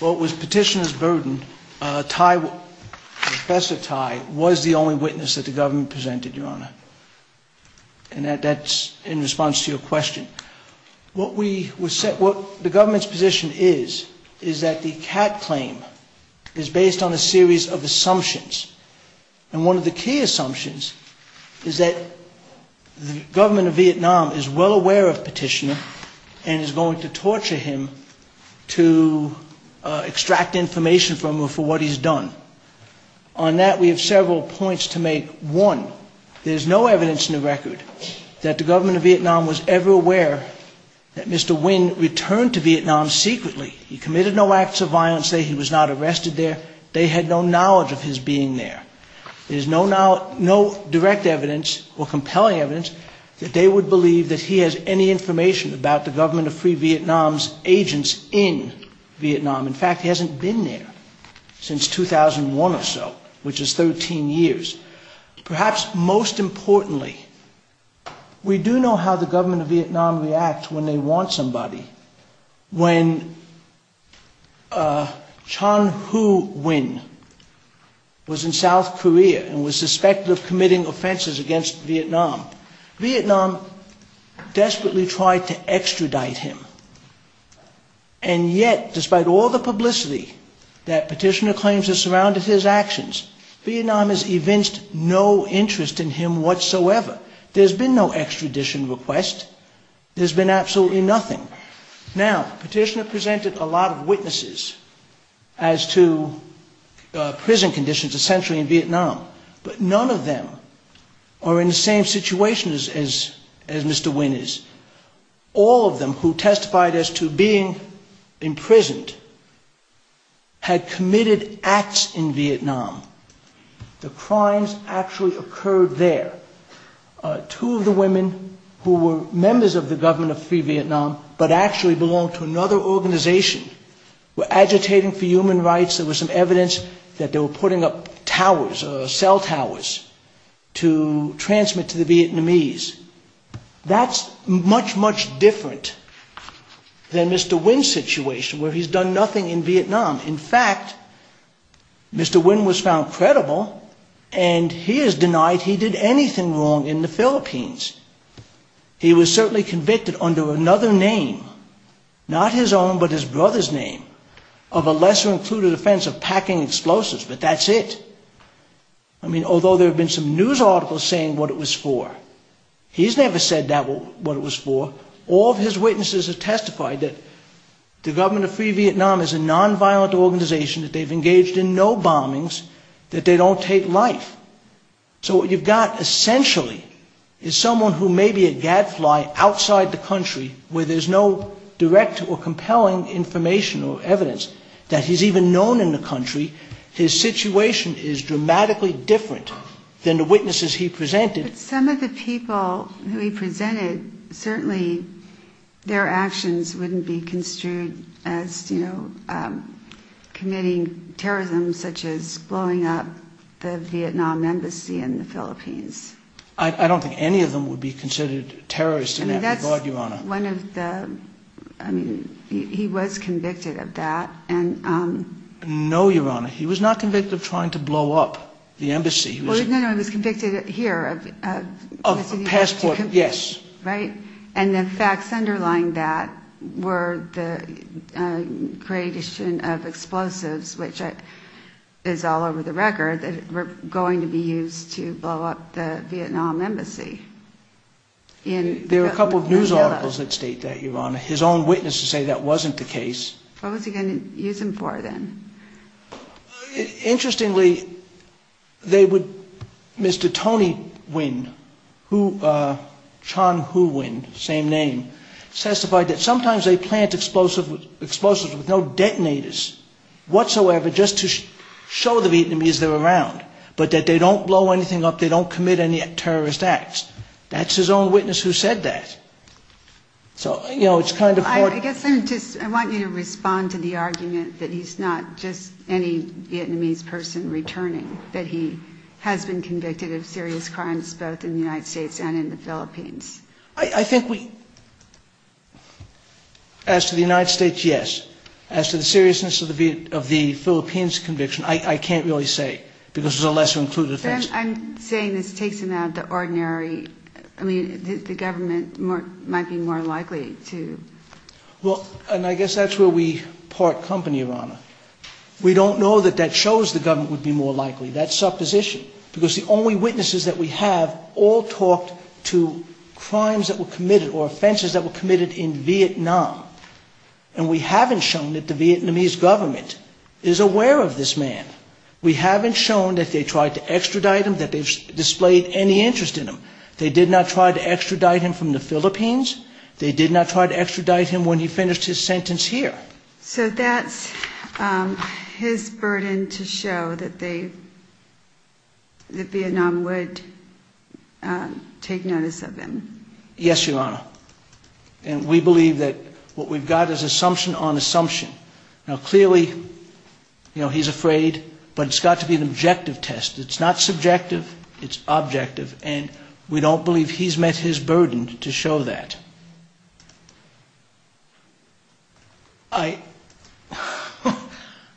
Well, it was petitioner's burden. Professor Tai was the only witness that the government presented, Your Honor, and that's in response to your question. What the government's position is is that the cat claim is based on a series of assumptions, and one of the key assumptions is that the government of Vietnam is well aware of petitioner and is going to torture him to extract information from him for what he's done. On that, we have several points to make. One, there's no evidence in the record that the government of Vietnam was ever aware that Mr. Nguyen returned to Vietnam secretly. He committed no acts of violence there. He was not arrested there. They had no knowledge of his being there. There's no direct evidence or compelling evidence that they would believe that he has any information about the government of free Vietnam's agents in Vietnam. In fact, he hasn't been there since 2001 or so, which is 13 years. Perhaps most importantly, we do know how the government of Vietnam reacts when they want somebody. When Chan Hu Nguyen was in South Korea and was suspected of committing offenses against Vietnam, Vietnam desperately tried to extradite him. And yet, despite all the publicity that petitioner claims has surrounded his actions, Vietnam has evinced no interest in him whatsoever. There's been no extradition request. There's been absolutely nothing. Now, petitioner presented a lot of witnesses as to prison conditions essentially in Vietnam, but none of them are in the same situation as Mr. Nguyen is. All of them who testified as to being imprisoned had committed acts in Vietnam. The crimes actually occurred there. Two of the women who were members of the government of free Vietnam, but actually belonged to another organization, were agitating for human rights. There was some evidence that they were putting up towers or cell towers to transmit to the Vietnamese. That's much, much different than Mr. Nguyen's situation where he's done nothing in Vietnam. In fact, Mr. Nguyen was found credible, and he is denied he did anything wrong in the Philippines. He was certainly convicted under another name, not his own, but his brother's name, of a lesser-included offense of packing explosives, but that's it. I mean, although there have been some news articles saying what it was for, he's never said what it was for. All of his witnesses have testified that the government of free Vietnam is a non-violent organization, that they've engaged in no bombings, that they don't take life. So what you've got essentially is someone who may be a gadfly outside the country, where there's no direct or compelling information or evidence that he's even known in the country. His situation is dramatically different than the witnesses he presented. Some of the people who he presented, certainly their actions wouldn't be construed as committing terrorism, such as blowing up the Vietnam embassy in the Philippines. I don't think any of them would be considered terrorists in that regard, Your Honor. He was convicted of that. No, Your Honor, he was not convicted of trying to blow up the embassy. No, he was convicted here. Of passport, yes. And the facts underlying that were the creation of explosives, which is all over the record, that were going to be used to blow up the Vietnam embassy. There were a couple of news articles that state that, Your Honor. His own witnesses say that wasn't the case. What was he going to use them for, then? Interestingly, Mr. Tony Nguyen, Chan Hu Nguyen, same name, testified that sometimes they plant explosives with no detonators whatsoever just to show the Vietnamese they're around, but that they don't blow anything up, they don't commit any terrorist acts. That's his own witness who said that. I guess I want you to respond to the argument that he's not just any Vietnamese person returning, that he has been convicted of serious crimes both in the United States and in the Philippines. I think we – as to the United States, yes. As to the seriousness of the Philippines conviction, I can't really say because it's a less inclusive case. I'm saying this takes him out of the ordinary. I mean, the government might be more likely to... Well, and I guess that's where we part company, Your Honor. We don't know that that shows the government would be more likely. That's supposition. Because the only witnesses that we have all talked to crimes that were committed or offenses that were committed in Vietnam. And we haven't shown that the Vietnamese government is aware of this man. We haven't shown that they tried to extradite him, that they've displayed any interest in him. They did not try to extradite him from the Philippines. They did not try to extradite him when he finished his sentence here. So that's his burden to show that they – that Vietnam would take notice of him. Yes, Your Honor. And we believe that what we've got is assumption on assumption. Now, clearly, you know, he's afraid. But it's got to be an objective test. It's not subjective. It's objective. And we don't believe he's met his burden to show that. I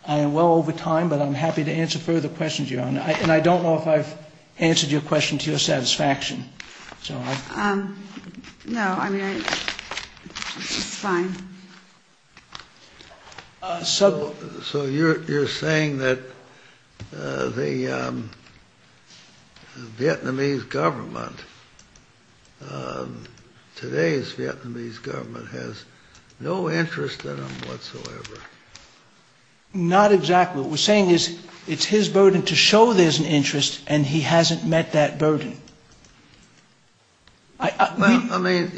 am well over time, but I'm happy to answer further questions, Your Honor. And I don't know if I've answered your question to your satisfaction. No, I mean, it's fine. So you're saying that the Vietnamese government, today's Vietnamese government, has no interest in him whatsoever? Not exactly. Your Honor, what we're saying is it's his burden to show there's an interest, and he hasn't met that burden. I mean,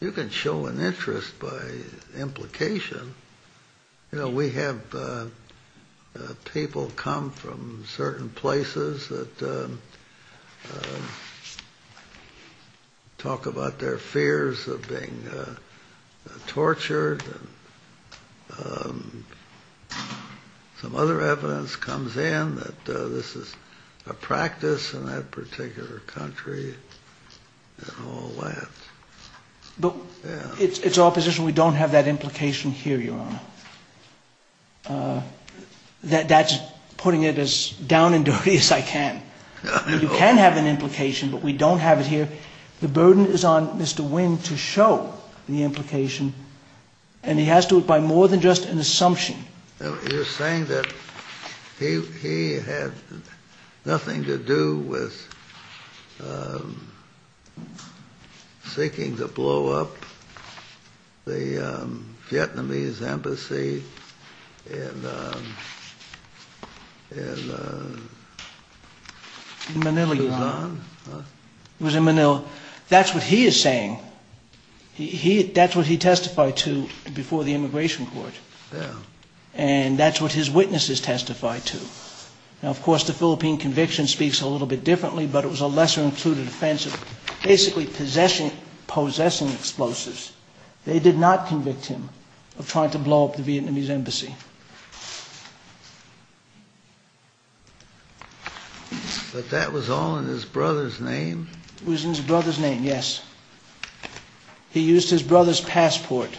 you can show an interest by implication. You know, we have people come from certain places that talk about their fears of being tortured and some other evidence comes in that this is a practice in that particular country and all that. But it's our position we don't have that implication here, Your Honor. That's putting it as down and dirty as I can. We can have an implication, but we don't have it here. The burden is on Mr. Wing to show the implication, and he has to do it by more than just an assumption. You're saying that he had nothing to do with seeking to blow up the Vietnamese embassy in Sudan? In Manila, Your Honor. It was in Manila. That's what he is saying. That's what he testified to before the immigration court. And that's what his witnesses testified to. Now, of course, the Philippine conviction speaks a little bit differently, but it was a lesser-included offense of basically possessing explosives. They did not convict him of trying to blow up the Vietnamese embassy. But that was all in his brother's name? It was in his brother's name, yes. He used his brother's passport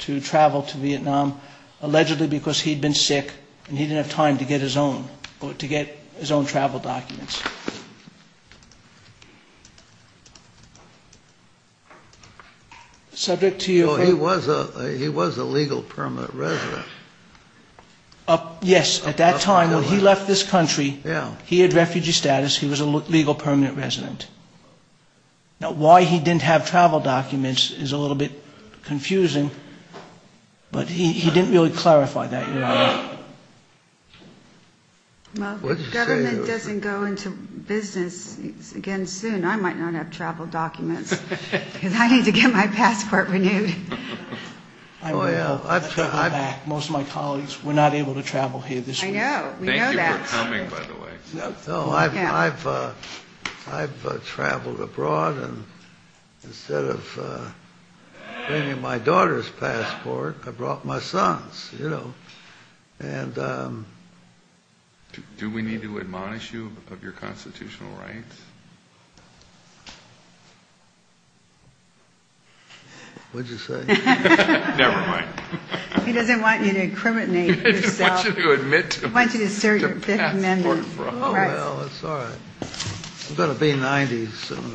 to travel to Vietnam, allegedly because he'd been sick and he didn't have time to get his own travel documents. He was a legal permanent resident. Yes, at that time. When he left this country, he had refugee status. He was a legal permanent resident. Now, why he didn't have travel documents is a little bit confusing, but he didn't really clarify that, Your Honor. Well, if the government doesn't go into business again soon, I might not have travel documents, because I need to get my passport renewed. Most of my colleagues were not able to travel here this year. I know, we know that. Thank you for coming, by the way. No, I've traveled abroad, and instead of bringing my daughter's passport, I brought my son's, you know. Do we need to admonish you of your constitutional rights? What did you say? Never mind. He doesn't want you to incriminate yourself. He doesn't want you to admit to it. Well, that's all right. I better be 90 soon.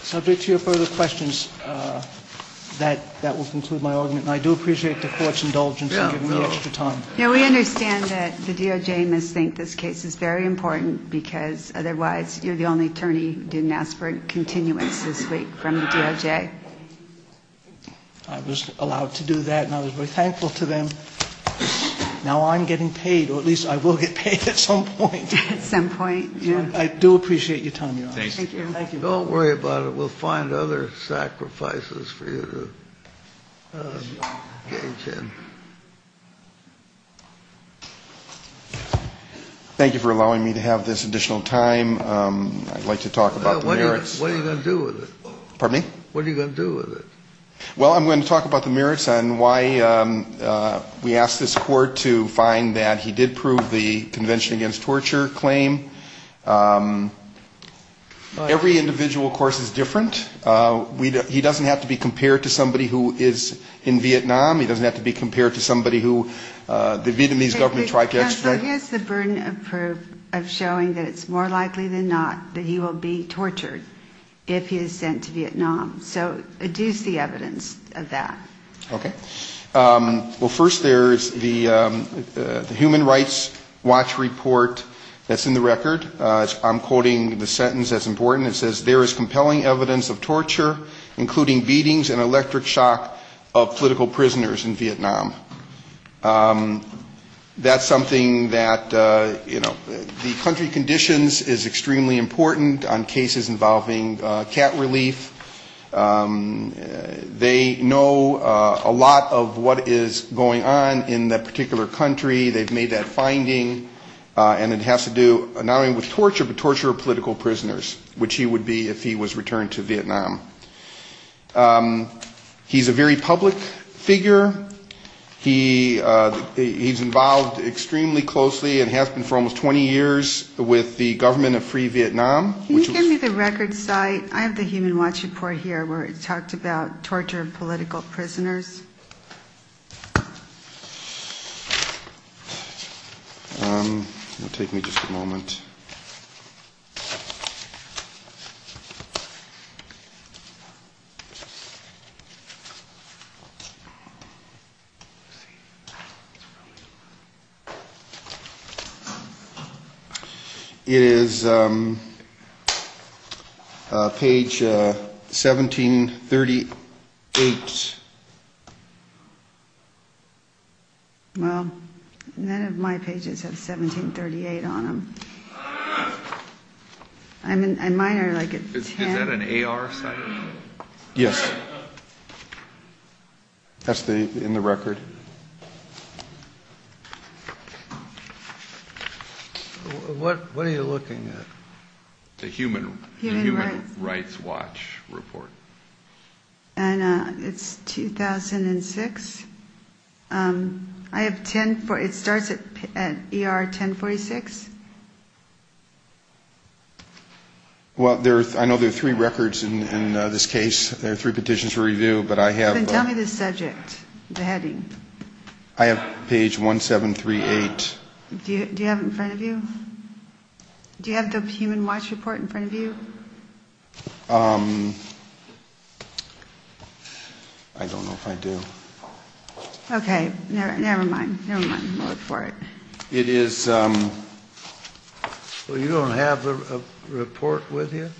Subject to your further questions, that will conclude my argument, and I do appreciate the court's indulgence in giving me extra time. Now, we understand that the DOJ must think this case is very important, because otherwise you're the only attorney who didn't ask for continuance from the DOJ. I was allowed to do that, and I was very thankful to them. Now I'm getting paid, or at least I will get paid at some point. At some point. I do appreciate you telling me all this. Thank you. Don't worry about it. We'll find other sacrifices for you to engage in. Thank you for allowing me to have this additional time. I'd like to talk about the merits. What are you going to do with it? Pardon me? What are you going to do with it? Well, I'm going to talk about the merits and why we asked this court to find that he did prove the Convention Against Torture claim. Every individual, of course, is different. He doesn't have to be compared to somebody who is in Vietnam. He doesn't have to be compared to somebody who the Vietnamese government tried to extradite. Here's the burden of proof of showing that it's more likely than not that he will be tortured if he is sent to Vietnam. So, do you see evidence of that? Okay. Well, first there's the Human Rights Watch report that's in the record. I'm quoting the sentence that's important. It says, there is compelling evidence of torture, including beatings and electric shock of political prisoners in Vietnam. That's something that, you know, the country conditions is extremely important on cases involving cat relief. They know a lot of what is going on in that particular country. They've made that finding. And it has to do not only with torture, but torture of political prisoners, which he would be if he was returned to Vietnam. He's a very public figure. He's involved extremely closely and has been for almost 20 years with the government of free Vietnam. Can you give me the record site? I have the Human Rights Watch report here where it talks about torture of political prisoners. It will take me just a moment. Okay. It is page 1738. Well, none of my pages have 1738 on them. Is that an AR section? Yes. That's in the record. What are you looking at? The Human Rights Watch report. It's 2006. It starts at ER 1046. Well, I know there are three records in this case. There are three petitions to review. Then tell me the subject, the heading. I have page 1738. Do you have it in front of you? Do you have the Human Rights Watch report in front of you? I don't know if I do. Okay. Never mind. Never mind. I'll look for it. It is... So you don't have the report with you?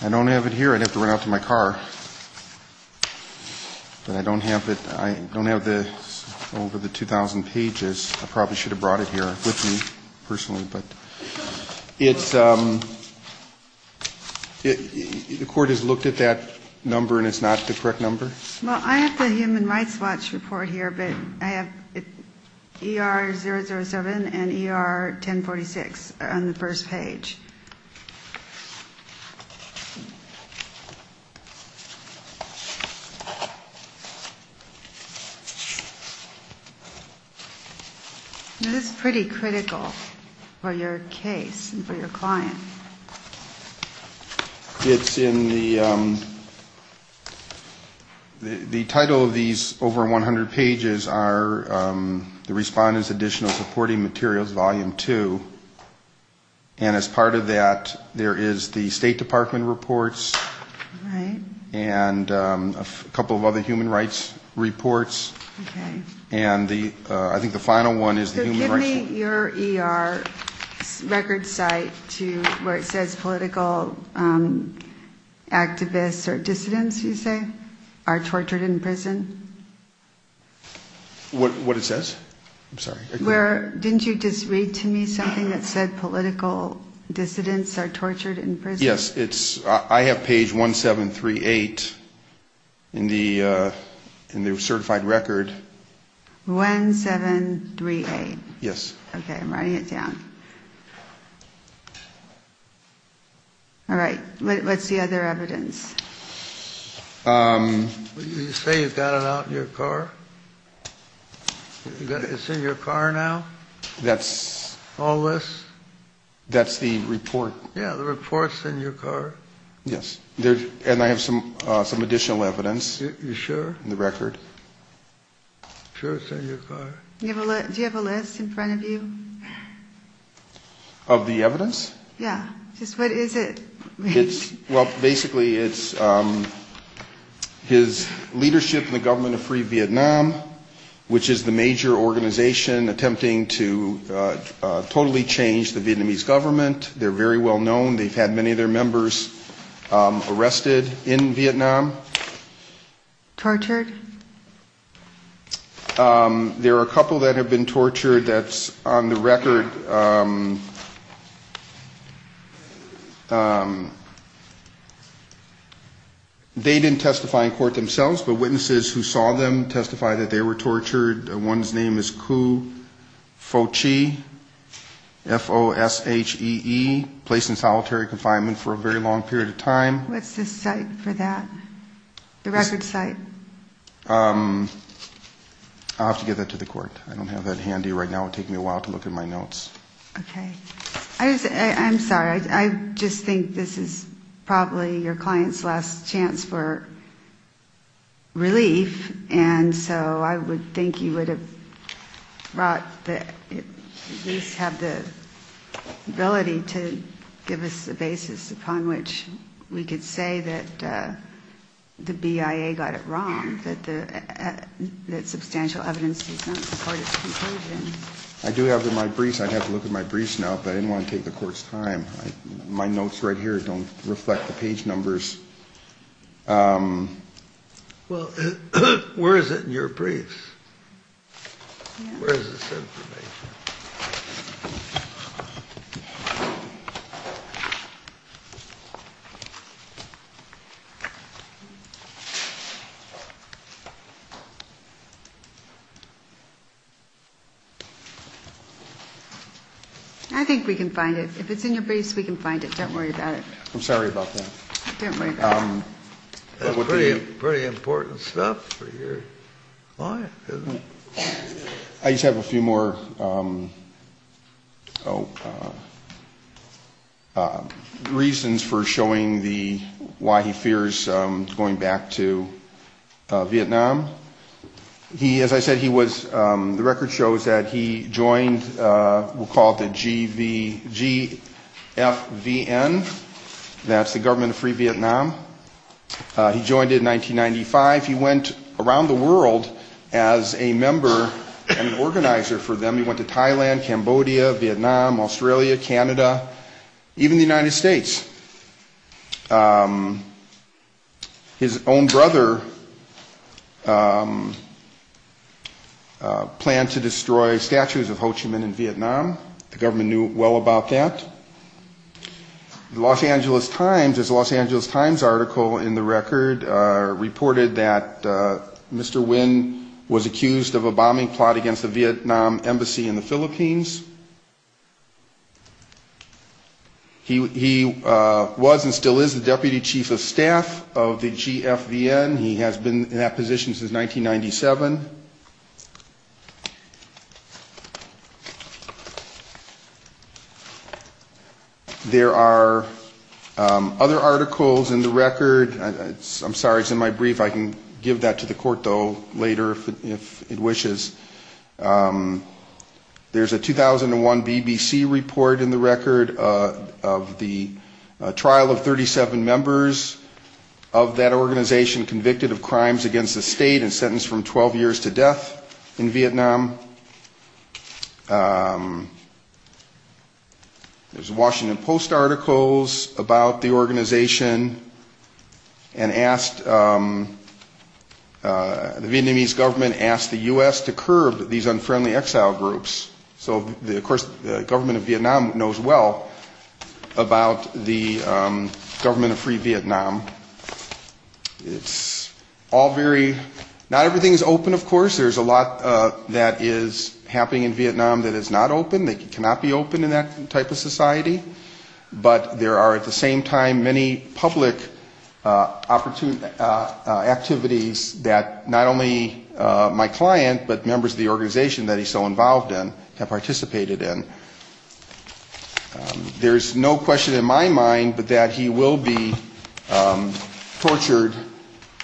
I don't have it here. I left it in my car. I don't have it. I don't have it over the 2000 pages. I probably should have brought it here with me personally. It's... The court has looked at that number and it's not the correct number? Well, I have the Human Rights Watch report here, but I have ER 007 and ER 1046 on the first page. It is pretty critical for your case and for your client. It's in the... The title of these over 100 pages are the Respondent's Additional Supporting Materials, Volume 2. In addition to that, there is the State Department reports and a couple of other human rights reports. Okay. And I think the final one is the Human Rights... Give me your ER record site where it says political activists or dissidents, you say, are tortured in prison. What it says? I'm sorry. Didn't you just read to me something that said political dissidents are tortured in prison? Yes. I have page 1738 in the certified record. 1738. Yes. Okay. I'm writing it down. All right. What's the other evidence? You say you got it out in your car? It's in your car now? That's... All this? That's the report. Yeah, the report's in your car? Yes. And I have some additional evidence. You sure? In the record. Sure it's in your car? Do you have a list in front of you? Of the evidence? Yeah. What is it? Well, basically it's his leadership in the government of free Vietnam, which is the major organization attempting to totally change the Vietnamese government. They're very well known. They've had many of their members arrested in Vietnam. Tortured? There are a couple that have been tortured. That's on the record. They didn't testify in court themselves, but witnesses who saw them testified that they were tortured. One's name is Khu Pho Chee, F-O-S-H-E-E, placed in solitary confinement for a very long period of time. What's the site for that? The record site? I'll have to get that to the court. I don't have that handy right now. It would take me a while to look in my notes. Okay. I'm sorry. I just think this is probably your client's last chance for relief, and so I would think you would at least have the ability to give us the basis upon which we could say that the BIA got it wrong, that substantial evidence is not supportive of the conclusion. I do have it in my briefs. I'd have to look at my briefs now, but I didn't want to take the court's time. My notes right here don't reflect the page numbers. Well, where is it in your briefs? Where is this information? I think we can find it. If it's in your briefs, we can find it. Don't worry about it. I'm sorry about that. Don't worry about it. That's pretty important stuff for your client, isn't it? I just have a few more reasons for showing why he fears going back to Vietnam. As I said, the record shows that he joined what we'll call the GFVN. That's the Government of Free Vietnam. He joined it in 1995. He went around the world as a member and an organizer for them. He went to Thailand, Cambodia, Vietnam, Australia, Canada, even the United States. His own brother planned to destroy statues of Ho Chi Minh in Vietnam. The government knew well about that. The Los Angeles Times, there's a Los Angeles Times article in the record, reported that Mr. Nguyen was accused of a bombing plot against the Vietnam Embassy in the Philippines. He was and still is the Deputy Chief of Staff of the GFVN. He has been in that position since 1997. There are other articles in the record. I'm sorry, it's in my brief. I can give that to the court, though, later if it wishes. There's a 2001 BBC report in the record of the trial of 37 members of that organization convicted of crimes against the state and sentenced from 12 years to death in Vietnam. There's Washington Post articles about the organization and asked, the Vietnamese government asked the U.S. to curb these unfriendly exile groups. So, of course, the government of Vietnam knows well about the government of free Vietnam. It's all very, not everything is open, of course. There's a lot that is happening in Vietnam that is not open. But there are, at the same time, many public activities that not only my client, but members of the organization that he's so involved in have participated in. There's no question in my mind that he will be tortured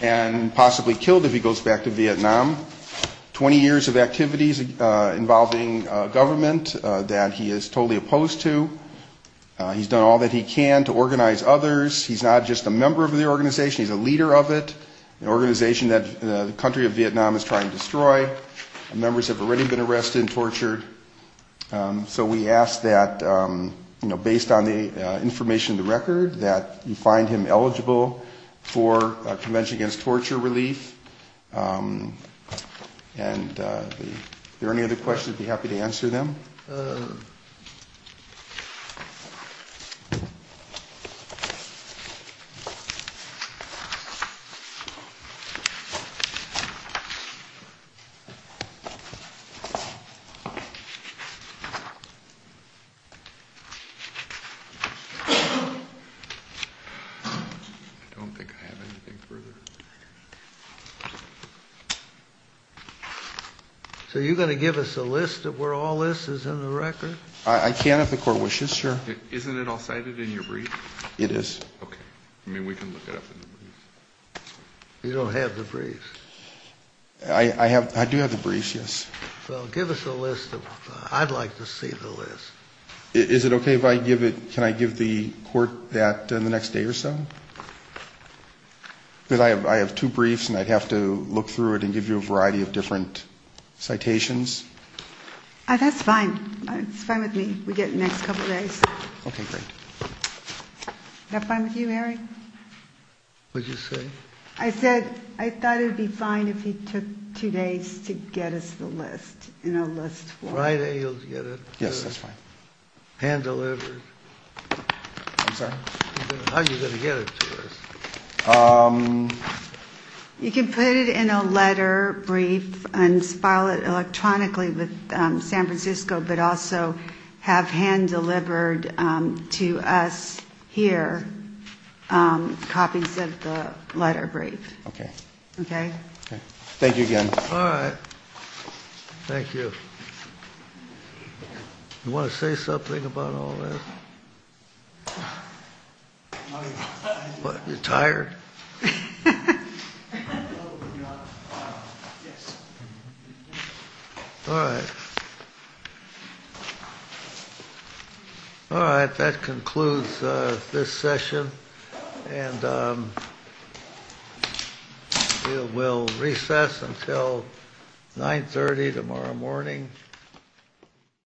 and possibly killed if he goes back to Vietnam. 20 years of activities involving government that he is totally opposed to. He's done all that he can to organize others. He's not just a member of the organization, he's a leader of it, an organization that the country of Vietnam is trying to destroy. Members have already been arrested and tortured. Do you find him eligible for Convention Against Torture relief? Are there any other questions, I'd be happy to answer them. I don't think I have anything further. So you're going to give us a list of where all this is in the record? I can if the court wishes, sure. Isn't it all cited in your brief? It is. Okay. I mean, we can look it up in the brief. You don't have the briefs. I do have the briefs, yes. Well, give us a list of them. I'd like to see the list. Is it okay if I give it, can I give the court that in the next day or so? Because I have two briefs and I'd have to look through it and give you a variety of different citations. That's fine. It's fine with me. We'll get it in the next couple of days. Okay, great. Is that fine with you, Harry? What did you say? I said I thought it would be fine if you took two days to get us the list in our list form. Yes, that's fine. You can put it in a letter brief and file it electronically with San Francisco, but also have hand-delivered to us here copies of the letter brief. Okay. Okay? Thank you again. All right. Thank you. You want to say something about all this? You're tired? All right. All right, that concludes this session. And we'll recess until 9.30 tomorrow morning.